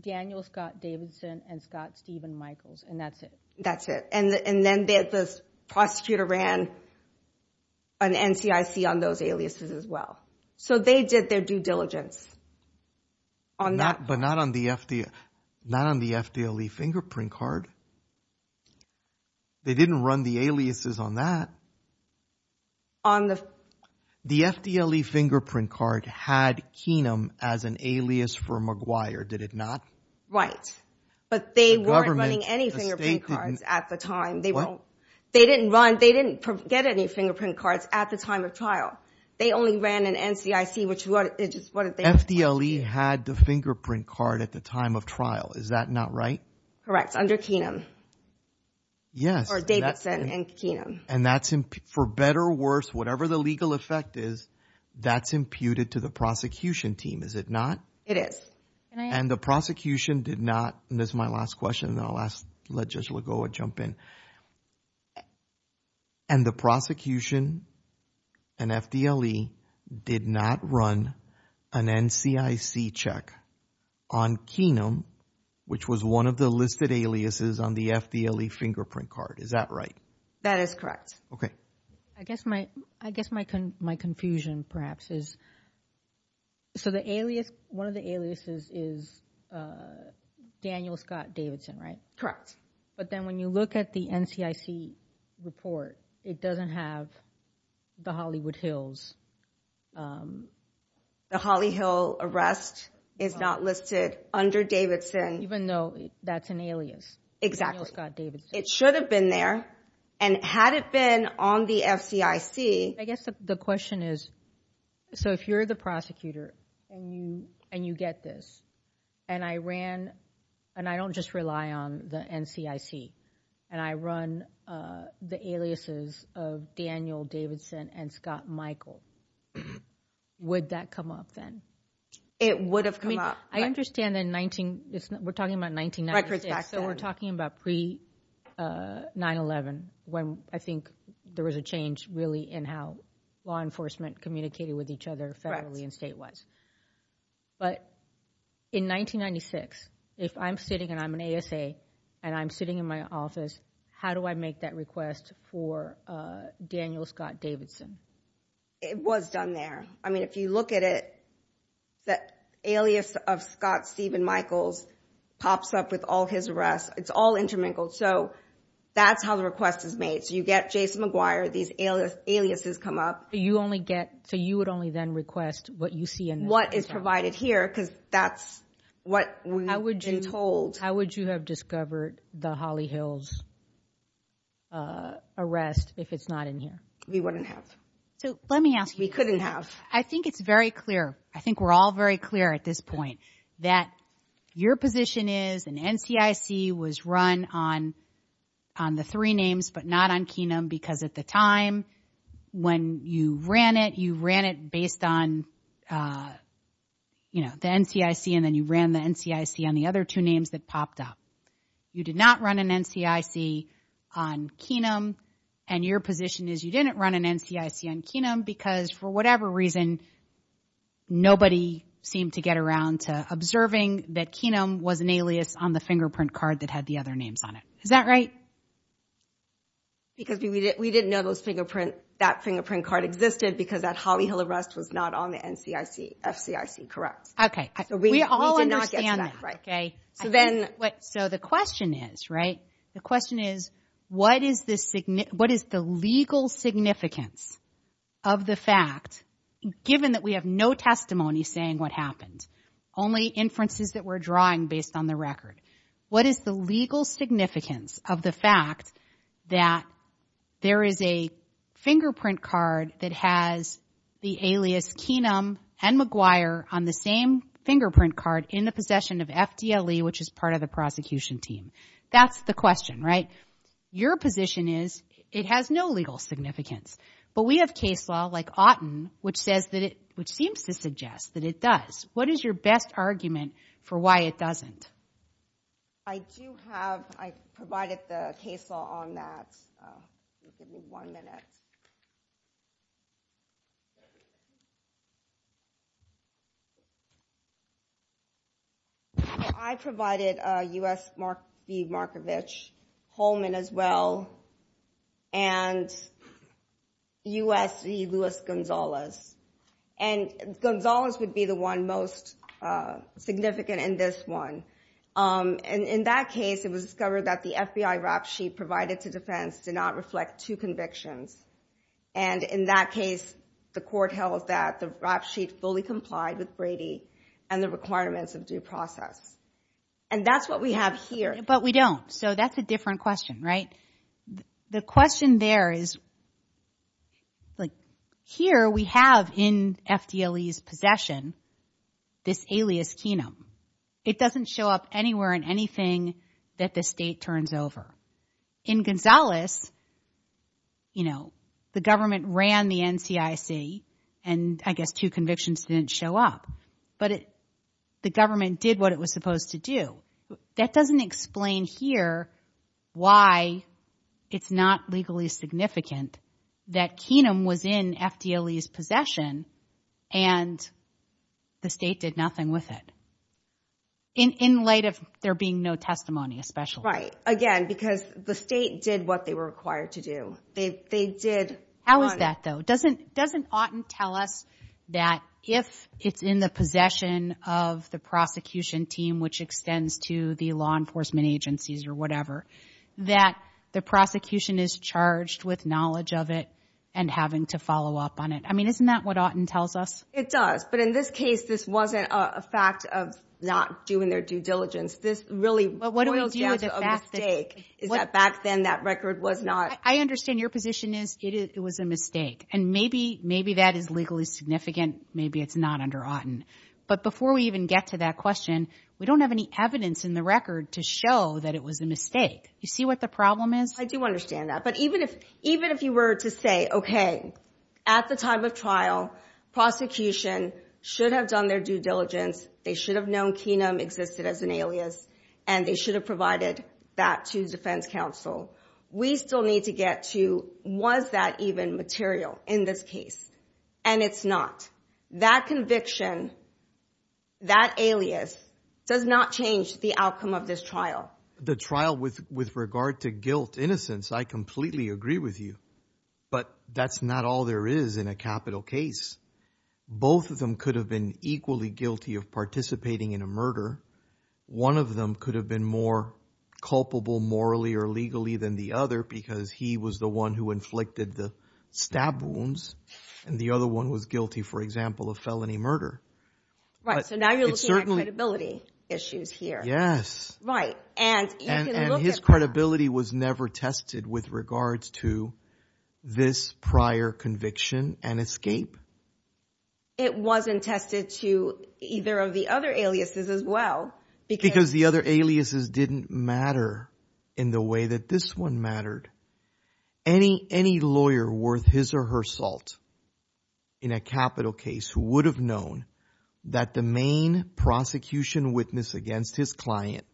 Daniel Scott Davidson and Scott Stephen Michaels, and that's it. That's it, and then the prosecutor ran an NCIC on those aliases as well. So they did their due diligence on that. But not on the FDLE fingerprint card. They didn't run the aliases on that. The FDLE fingerprint card had Keenum as an alias for McGuire, did it not? Right, but they weren't running any fingerprint cards at the time. They didn't run, they didn't get any fingerprint cards at the time of trial. They only ran an NCIC, which is what they- FDLE had the fingerprint card at the time of trial, is that not right? Correct, under Keenum. Yes. Or Davidson and Keenum. And that's, for better or worse, whatever the legal effect is, that's imputed to the prosecution team, is it not? It is. And the prosecution did not, and this is my last question, and I'll let Judge Lagoa jump in. And the prosecution and FDLE did not run an NCIC check on Keenum, which was one of the listed aliases on the FDLE fingerprint card, is that right? That is correct. Okay. I guess my confusion perhaps is, so the alias, one of the aliases is Daniel Scott Davidson, right? Correct. But then when you look at the NCIC report, it doesn't have the Hollywood Hills. The Hollywood Hills arrest is not listed under Davidson. Even though that's an alias. Exactly. It should have been there, and had it been on the NCIC- I guess the question is, so if you're the prosecutor and you get this, and I ran, and I don't just rely on the NCIC, and I run the aliases of Daniel Davidson and Scott Michael, would that come up then? It would have come up. I understand in 19, we're talking about 1996, so we're talking about pre-911, when I think there was a change really in how law enforcement communicated with each other federally and statewide. But in 1996, if I'm sitting, and I'm an ASA, and I'm sitting in my office, how do I make that request for Daniel Scott Davidson? It was done there. I mean, if you look at it, the alias of Scott Stephen Michaels pops up with all his arrests. It's all intermingled, so that's how the request is made. So you get Jason McGuire, these aliases come up. So you would only then request what you see in there? What is provided here, because that's what we've been told. How would you have discovered the Holly Hills arrest if it's not in here? We wouldn't have. Let me ask- We couldn't have. I think it's very clear. I think we're all very clear at this point that your position is, and NCIC was run on the three names, but not on Keenum, because at the time when you ran it, you ran it based on the NCIC, and then you ran the NCIC on the other two names that popped up. You did not run an NCIC on Keenum, and your position is you didn't run an NCIC on Keenum, because for whatever reason, nobody seemed to get around to observing that Keenum was an alias on the fingerprint card that had the other names on it. Is that right? Because we didn't know that fingerprint card existed because that Holly Hill arrest was not on the NCIC, SCIC, correct? Okay. We all understand that, okay? So the question is, right? The question is, what is the legal significance of the fact, given that we have no testimony saying what happened, only inferences that we're drawing based on the record? What is the legal significance of the fact that there is a fingerprint card that has the alias Keenum and McGuire on the same fingerprint card in the possession of FDLE, which is part of the prosecution team? That's the question, right? Your position is it has no legal significance, but we have case law, like Otten, which seems to suggest that it does. What is your best argument for why it doesn't? I do have, I provided the case law on that. Give me one minute. I provided U.S. Mark C. Markovich, Holman as well, and U.S. E. Louis Gonzalez. And Gonzalez would be the one most significant in this one. And in that case, it was discovered that the FBI rap sheet provided for defense did not reflect two convictions. And in that case, the court held that the rap sheet fully complied with Brady and the requirements of due process. And that's what we have here. But we don't. So that's a different question, right? The question there is, like, here we have in FDLE's possession this alias Keenum. It doesn't show up anywhere in anything that the state turns over. In Gonzalez, you know, the government ran the NCIC, and I guess two convictions didn't show up. But the government did what it was supposed to do. That doesn't explain here why it's not legally significant that Keenum was in FDLE's possession and the state did nothing with it. In light of there being no testimony, especially. Again, because the state did what they were required to do. They did. How is that, though? Doesn't Auten tell us that if it's in the possession of the prosecution team, which extends to the law enforcement agencies or whatever, that the prosecution is charged with knowledge of it and having to follow up on it? I mean, isn't that what Auten tells us? It does. But in this case, this wasn't a fact of not doing their due diligence. This really was a mistake, is that back then that record was not. I understand your position is it was a mistake. And maybe that is legally significant. Maybe it's not under Auten. But before we even get to that question, we don't have any evidence in the record to show that it was a mistake. You see what the problem is? I do understand that. Even if you were to say, OK, at the time of trial, prosecution should have done their due diligence. They should have known Keenum existed as an alias and they should have provided that to defense counsel. We still need to get to was that even material in this case? And it's not. That conviction, that alias does not change the outcome of this trial. The trial with regard to guilt, innocence, I completely agree with you. But that's not all there is in a capital case. Both of them could have been equally guilty of participating in a murder. One of them could have been more culpable morally or legally than the other because he was the one who inflicted the stab wounds. And the other one was guilty, for example, of felony murder. Right. So now you're looking at credibility issues here. Yes. Right. And his credibility was never tested with regards to this prior conviction and escape. It wasn't tested to either of the other aliases as well. Because the other aliases didn't matter in the way that this one mattered. Any lawyer worth his or her salt in a capital case would have known that the main prosecution witness against his client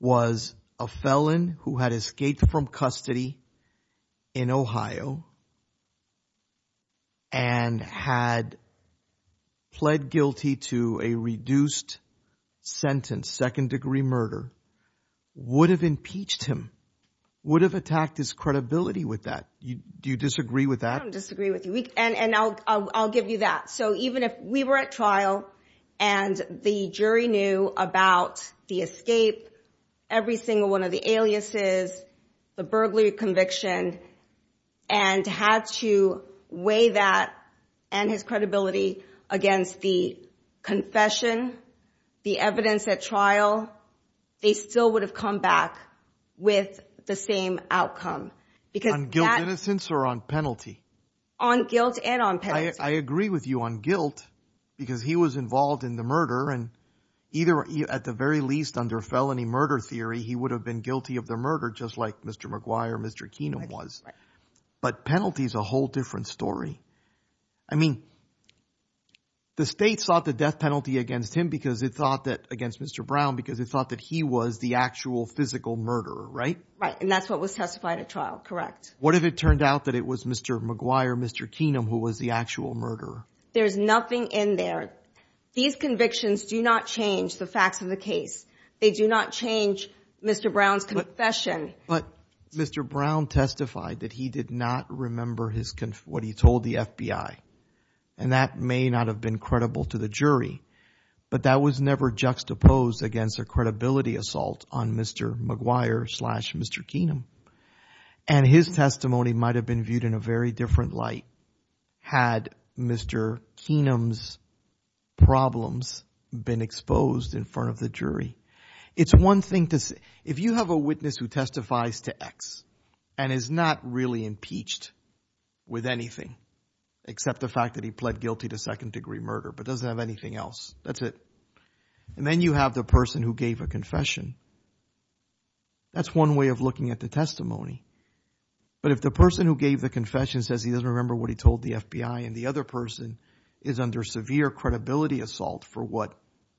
was a felon who had escaped from custody in Ohio and had pled guilty to a reduced sentence, second degree murder, would have impeached him, would have attacked his credibility with that. Do you disagree with that? I don't disagree with you. And I'll give you that. So even if we were at trial and the jury knew about the escape, every single one of the aliases, the burglary conviction, and had to weigh that and his credibility against the confession, the evidence at trial, they still would have come back with the same outcome. On guilt and innocence or on penalty? On guilt and on penalty. I agree with you on guilt because he was involved in the murder. And either at the very least under felony murder theory, he would have been guilty of the murder just like Mr. McGuire, Mr. Keenum was. But penalty is a whole different story. I mean, the state sought the death penalty against him because it thought that against Mr. Brown because it thought that he was the actual physical murderer, right? Right. And that's what was testified at trial. Correct. What if it turned out that it was Mr. McGuire, Mr. Keenum who was the actual murderer? There's nothing in there. These convictions do not change the facts of the case. They do not change Mr. Brown's confession. But Mr. Brown testified that he did not remember what he told the FBI. And that may not have been credible to the jury. But that was never juxtaposed against a credibility assault on Mr. McGuire, Mr. Keenum. And his testimony might have been viewed in a very different light had Mr. Keenum's problems been exposed in front of the jury. It's one thing to say. If you have a witness who testifies to X and is not really impeached with anything, except the fact that he pled guilty to second degree murder, but doesn't have anything else, that's it. And then you have the person who gave a confession. That's one way of looking at the testimony. But if the person who gave the confession says he doesn't remember what he told the FBI and the other person is under severe credibility assault for what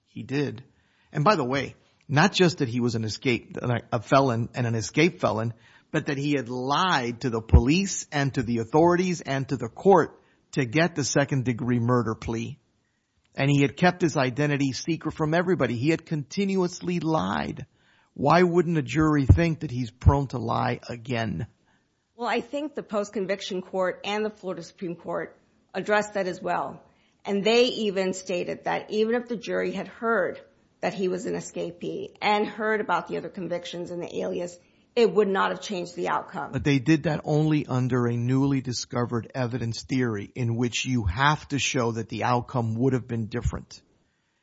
he did. And by the way, not just that he was a felon and an escape felon, but that he had lied to the police and to the authorities and to the court to get the second degree murder plea. And he had kept his identity secret from everybody. He had continuously lied. Why wouldn't a jury think that he's prone to lie again? Well, I think the post-conviction court and the Florida Supreme Court addressed that as well. And they even stated that even if the jury had heard that he was an escapee and heard about the other convictions and the alias, it would not have changed the outcome. But they did that only under a newly discovered evidence theory in which you have to show that the outcome would have been different.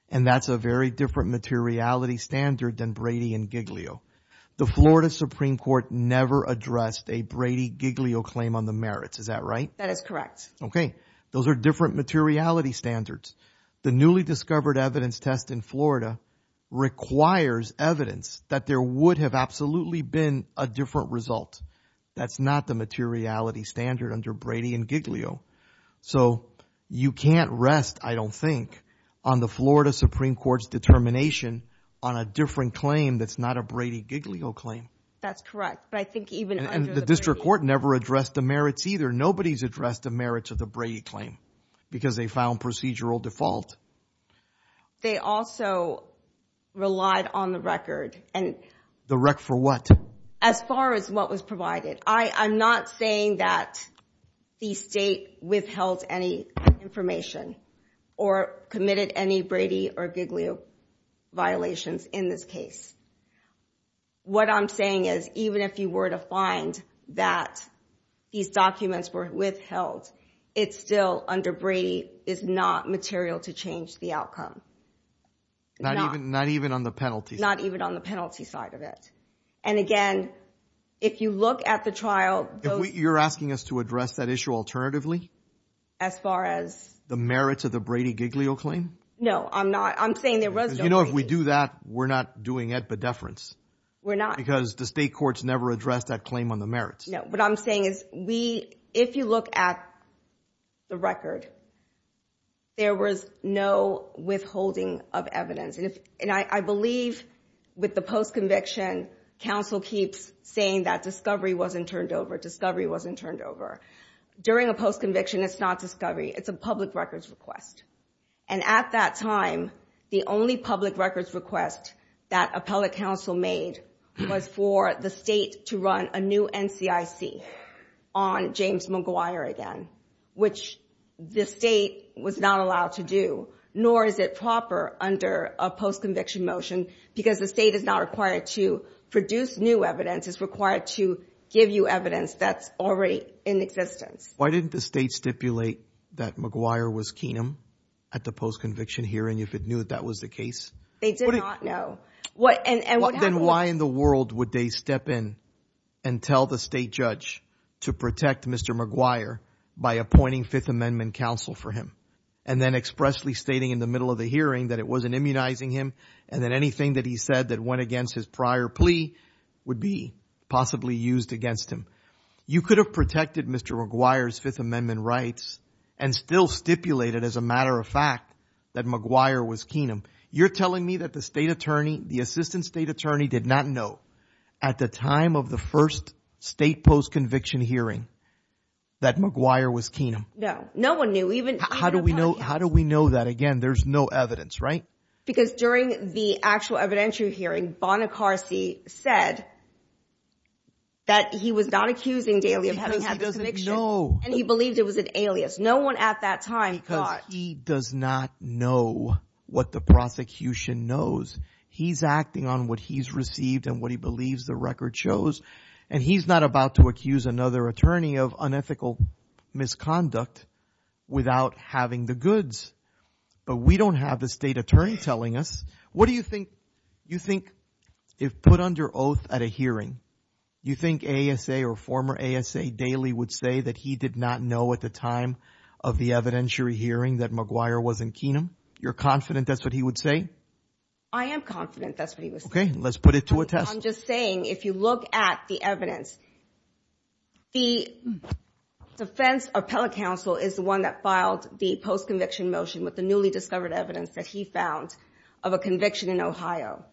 And that's a very different materiality standard than Brady and Giglio. The Florida Supreme Court never addressed a Brady-Giglio claim on the merits. Is that right? Okay. Those are different materiality standards. The newly discovered evidence test in Florida requires evidence that there would have absolutely been a different result. That's not the materiality standard under Brady and Giglio. So you can't rest, I don't think, on the Florida Supreme Court's determination on a different claim that's not a Brady-Giglio claim. That's correct. But I think even under the- The district court never addressed the merits either. Nobody's addressed the merits of the Brady claim because they found procedural default. They also relied on the record and- The record for what? As far as what was provided. I'm not saying that the state withheld any information or committed any Brady or Giglio violations in this case. What I'm saying is even if you were to find that these documents were withheld, it's still under Brady, it's not material to change the outcome. Not even on the penalty. Not even on the penalty side of it. And again, if you look at the trial- You're asking us to address that issue alternatively? As far as? The merits of the Brady-Giglio claim? No, I'm not. I'm saying there was- You know, if we do that, we're not doing it by deference. We're not. Because the state courts never addressed that claim on the merits. What I'm saying is if you look at the record, there was no withholding of evidence. And I believe with the post-conviction, counsel keeps saying that discovery wasn't turned over, discovery wasn't turned over. During a post-conviction, it's not discovery. It's a public records request. And at that time, the only public records request that appellate counsel made was for the state to run a new NCIC on James McGuire again, which the state was not allowed to do, nor is it proper under a post-conviction motion, because the state is not required to produce new evidence. It's required to give you evidence that's already in existence. Why didn't the state stipulate that McGuire was Keenum at the post-conviction hearing if it knew that was the case? They did not know. Well, then why in the world would they step in and tell the state judge to protect Mr. McGuire by appointing Fifth Amendment counsel for him, and then expressly stating in the middle of the hearing that it wasn't immunizing him, and then anything that he said that went against his prior plea would be possibly used against him? You could have protected Mr. McGuire's Fifth Amendment rights and still stipulated as a matter of fact that McGuire was Keenum. You're telling me that the state attorney, the assistant state attorney did not know at the time of the first state post-conviction hearing that McGuire was Keenum? No, no one knew. How do we know that? Again, there's no evidence, right? Because during the actual evidentiary hearing, Bonacarsi said that he was not accusing Daly of having had the conviction, and he believed it was an alias. No one at that time thought... He does not know what the prosecution knows. He's acting on what he's received and what he believes the record shows, and he's not about to accuse another attorney of unethical misconduct without having the goods. But we don't have the state attorney telling us. What do you think if put under oath at a hearing, you think ASA or former ASA Daly would say that he did not know at the time of the evidentiary hearing that McGuire was in Keenum? You're confident that's what he would say? I am confident that's what he would say. Okay, let's put it to a test. I'm just saying if you look at the evidence, the defense appellate counsel is the one that filed the post-conviction motion with the newly discovered evidence that he found of a conviction in Ohio.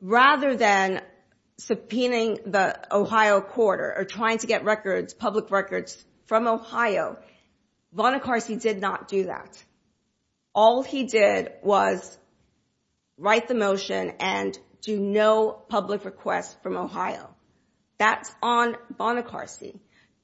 Rather than subpoenaing the Ohio court or trying to get records, public records from Ohio, Bonacarsi did not do that. All he did was write the motion and do no public request from Ohio. That's on Bonacarsi.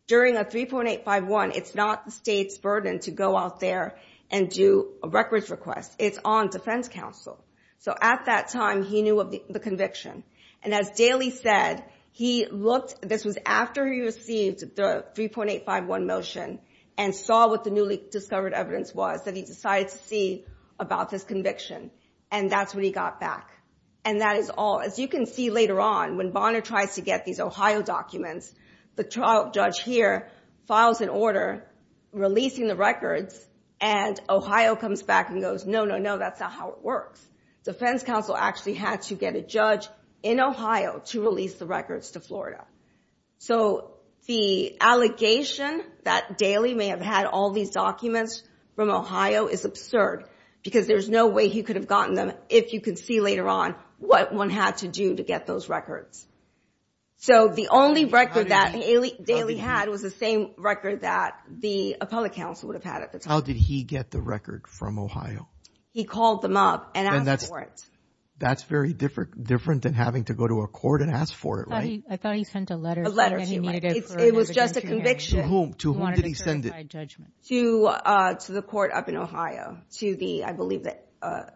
During a 3.851, it's not the state's burden to go out there and do a records request. It's on defense counsel. So at that time, he knew of the conviction. And as Daly said, this was after he received the 3.851 motion and saw what the newly discovered evidence was that he decided to see about this conviction. And that's when he got back. And that is all. As you can see later on, when Bonner tries to get these Ohio documents, the trial judge here files an order releasing the records, and Ohio comes back and goes, no, no, no, that's not how it works. Defense counsel actually had to get a judge in Ohio to release the records to Florida. So the allegation that Daly may have had all these documents from Ohio is absurd because there's no way he could have gotten them, if you can see later on, what one had to do to get those records. So the only record that Daly had was the same record that the public counsel would have had. How did he get the record from Ohio? He called them up and asked for it. That's very different than having to go to a court and ask for it, right? I thought he sent a letter. It was just a conviction. To whom? To whom did he send it? To the court up in Ohio. To the, I believe, the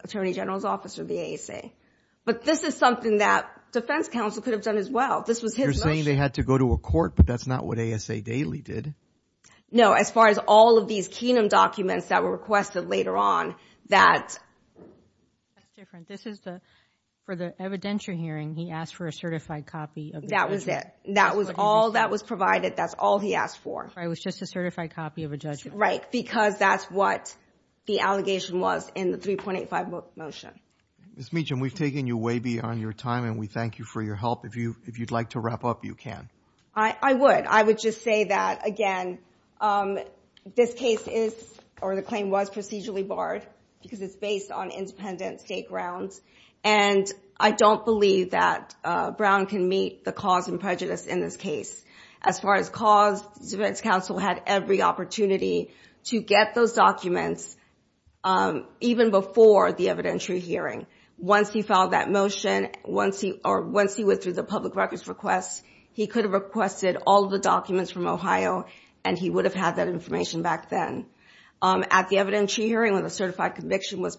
attorney general's office or the ASA. But this is something that defense counsel could have done as well. You're saying they had to go to a court, but that's not what ASA Daly did. No, as far as all of these Kenan documents that were requested later on, that's different. This is for the evidentiary hearing. He asked for a certified copy. That was it. That was all that was provided. That's all he asked for. It was just a certified copy of a judgment. Right, because that's what the allegation was in the 3.85 motion. Ms. Meacham, we've taken you way beyond your time and we thank you for your help. If you'd like to wrap up, you can. I would. I would just say that, again, this case is, or the claim was procedurally barred because it's based on independent state grounds. And I don't believe that Brown can meet the cause and prejudice in this case. As far as cause, defense counsel had every opportunity to get those documents even before the evidentiary hearing. Once he filed that motion, or once he went through the public records request, he could have requested all of the documents from Ohio and he would have had that information back then. At the evidentiary hearing when the certified conviction was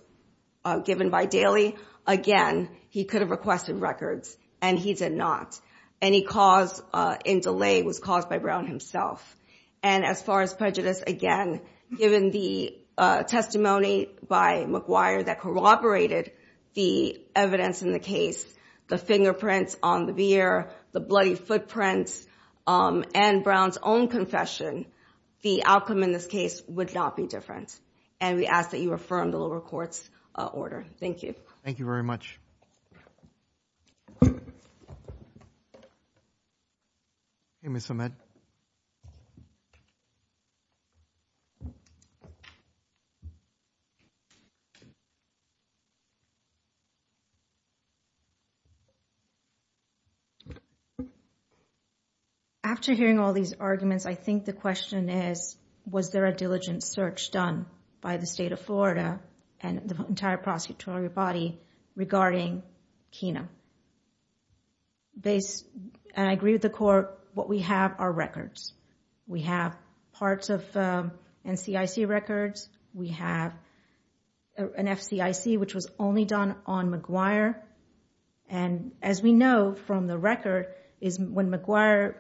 given by Daly, again, he could have requested records and he did not. Any cause in delay was caused by Brown himself. And as far as prejudice, again, given the testimony by McGuire that corroborated the evidence in the case, the fingerprints on the veer, the bloody footprints, and Brown's own confession, the outcome in this case would not be different. And we ask that you affirm the lower court's order. Thank you. Thank you very much. Thank you, Ms. Ahmed. After hearing all these arguments, I think the question is, was there a diligent search done by the state of Florida and the entire prosecutorial body regarding Kena? Based, and I agree with the court, what we have are records. We have parts of NCIC records. We have an FCIC, which was only done on McGuire. And as we know from the record, is when McGuire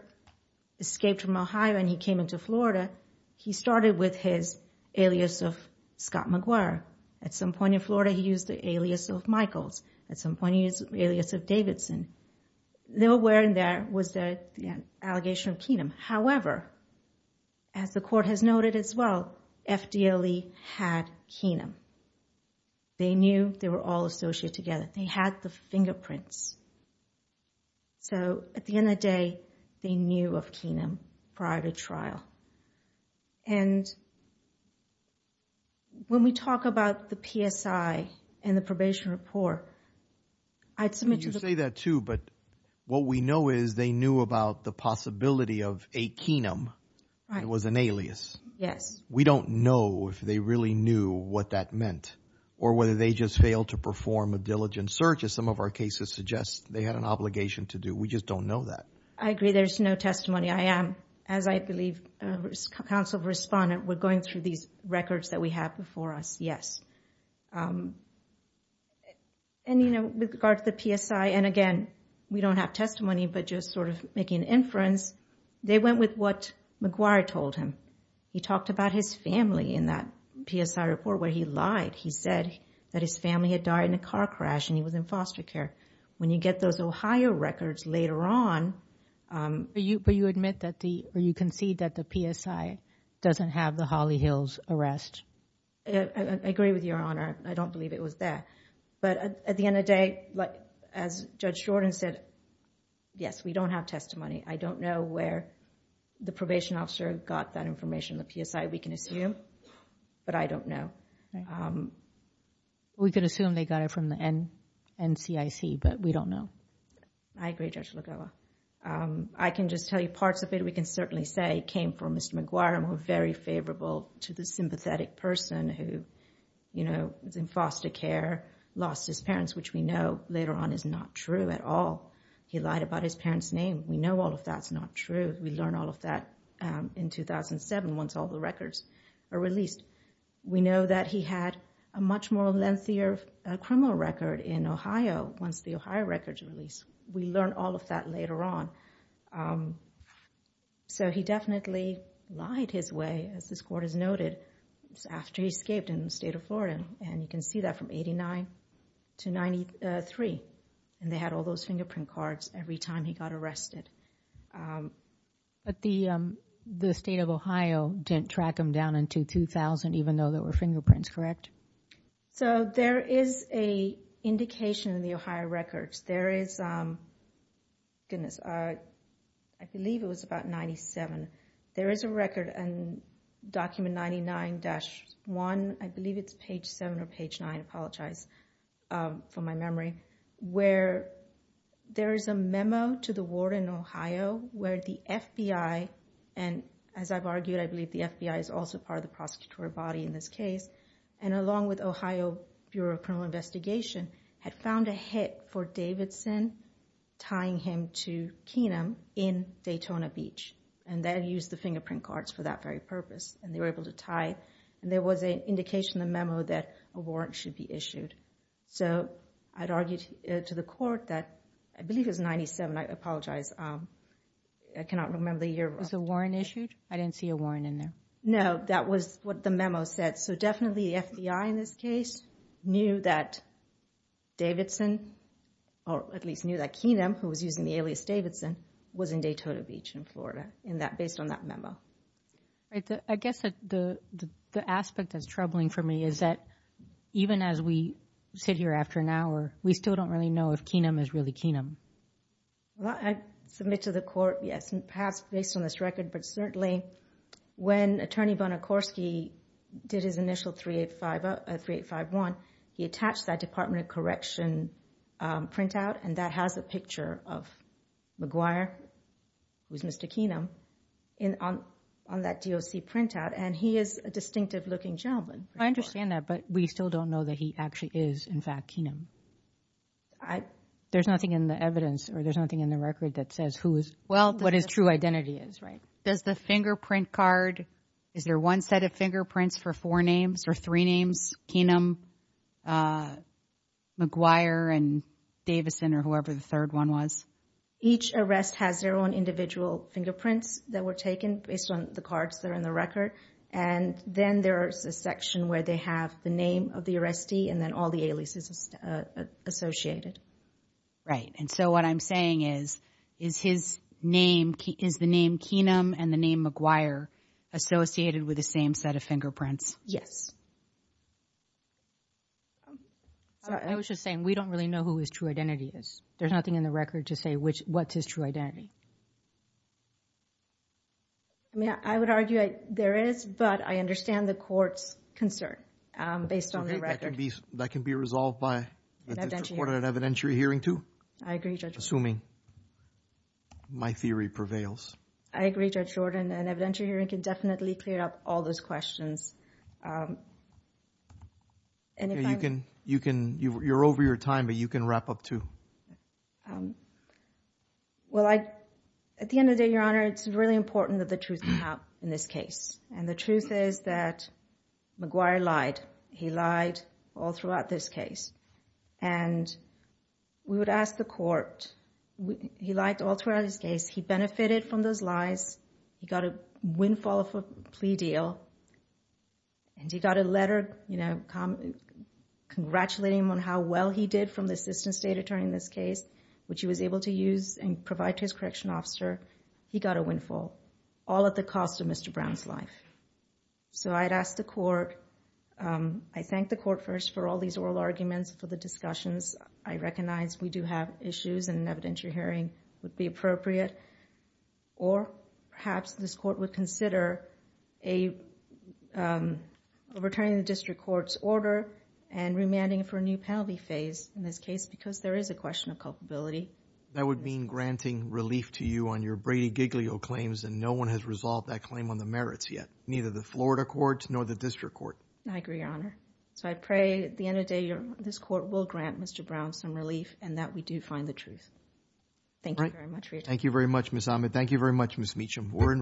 escaped from Ohio and he came into Florida, he started with his alias of Scott McGuire. At some point in Florida, he used the alias of Michaels. At some point, he used the alias of Davidson. Nowhere in there was an allegation of Kenam. However, as the court has noted as well, FDLE had Kenam. They knew they were all associated together. They had the fingerprints. So at the end of the day, they knew of Kenam prior to trial. And when we talk about the PSI and the probation report, I'd submit to the court- You say that too, but what we know is they knew about the possibility of a Kenam. It was an alias. Yes. We don't know if they really knew what that meant or whether they just failed to perform a diligent search as some of our cases suggest they had an obligation to do. We just don't know that. I agree. There's no testimony. As I believe Council of Respondent, we're going through these records that we have before us. And with regards to PSI, and again, we don't have testimony, but just sort of making inference, they went with what McGuire told him. He talked about his family in that PSI report where he lied. He said that his family had died in a car crash and he was in foster care. When you get those Ohio records later on, you admit that you concede that the PSI doesn't have the Holly Hills arrest. I agree with Your Honor. I don't believe it was there. But at the end of the day, as Judge Jordan said, yes, we don't have testimony. I don't know where the probation officer got that information, the PSI we can assume, but I don't know. We could assume they got it from the NCIC, but we don't know. I agree, Judge Lugolo. I can just tell you parts of it we can certainly say came from Mr. McGuire and were very favorable to the sympathetic person who, you know, was in foster care, lost his parents, which we know later on is not true at all. He lied about his parents' names. We know all of that's not true. We learn all of that in 2007 once all the records are released. We know that he had a much more lengthier criminal record in Ohio once the Ohio records were released. We learn all of that later on. So he definitely lied his way, as this court has noted, after he escaped in the state of Florida. And you can see that from 89 to 93. And they had all those fingerprint cards every time he got arrested. But the state of Ohio didn't track him down until 2000, even though there were fingerprints, correct? So there is an indication in the Ohio records. There is, goodness, I believe it was about 97. There is a record in document 99-1, I believe it's page 7 or page 9, I apologize for my memory, where there is a memo to the ward in Ohio where the FBI, and as I've argued, I believe the FBI is also part of the prosecutorial body in this case, and along with Ohio Bureau of Criminal Investigation had found a hit for Davidson, tying him to Keenum in Daytona Beach. And they used the fingerprint cards for that very purpose. And they were able to tie, and there was an indication in the memo that a warrant should be issued. So I'd argued to the court that, I believe it was 97, I apologize. I cannot remember the year. It was a warrant issued? I didn't see a warrant in there. No, that was what the memo said. So definitely the FBI in this case knew that Davidson, or at least knew that Keenum, who was using the alias Davidson, was in Daytona Beach in Florida, based on that memo. I guess the aspect that's troubling for me is that even as we sit here after an hour, we still don't really know if Keenum is really Keenum. I submit to the court, yes, perhaps based on this record, but certainly when Attorney Bonacorski did his initial 3851, he attached that Department of Correction printout, and that has a picture of McGuire with Mr. Keenum on that DOC printout. And he is a distinctive looking gentleman. I understand that, but we still don't know that he actually is, in fact, Keenum. There's nothing in the evidence, or there's nothing in the record that says who is... Well, what his true identity is, right? There's a fingerprint card. Is there one set of fingerprints for four names or three names, Keenum, McGuire, and Davidson, or whoever the third one was? Each arrest has their own individual fingerprints that were taken based on the cards that are in the record. And then there's the section where they have the name of the arrestee and then all the aliases associated. Right, and so what I'm saying is, is his name, is the name Keenum and the name McGuire associated with the same set of fingerprints? Yes. I was just saying, we don't really know who his true identity is. There's nothing in the record to say what's his true identity. I mean, I would argue that there is, but I understand the court's concern based on the record. That can be resolved by an evidentiary hearing too? I agree, Judge Jordan. Assuming my theory prevails. I agree, Judge Jordan. An evidentiary hearing can definitely clear up all those questions. Okay, you're over your time, but you can wrap up too. Well, at the end of the day, Your Honor, it's really important that the truth is out in this case. And the truth is that McGuire lied. He lied all throughout this case. And we would ask the court, he lied all throughout his case. He benefited from those lies. He got a windfall plea deal. And he got a letter congratulating him on how well he did from the assistant state attorney in this case, which he was able to use and provide to his correction officer. He got a windfall, all at the cost of Mr. Brown's life. So I'd ask the court, I thank the court first for all these oral arguments, for the discussions. I recognize we do have issues and an evidentiary hearing would be appropriate. Or perhaps this court would consider a returning the district court's order and remanding for a new penalty phase in this case, because there is a question of culpability. That would mean granting relief to you on your Brady Giglio claims and no one has resolved that claim on the merits yet. Neither the Florida courts nor the district court. I agree, your honor. So I pray at the end of the day, this court will grant Mr. Brown some relief and that we do find the truth. Thank you very much. Thank you very much, Ms. Ahmed. Thank you very much, Ms. Meacham. We're in recess.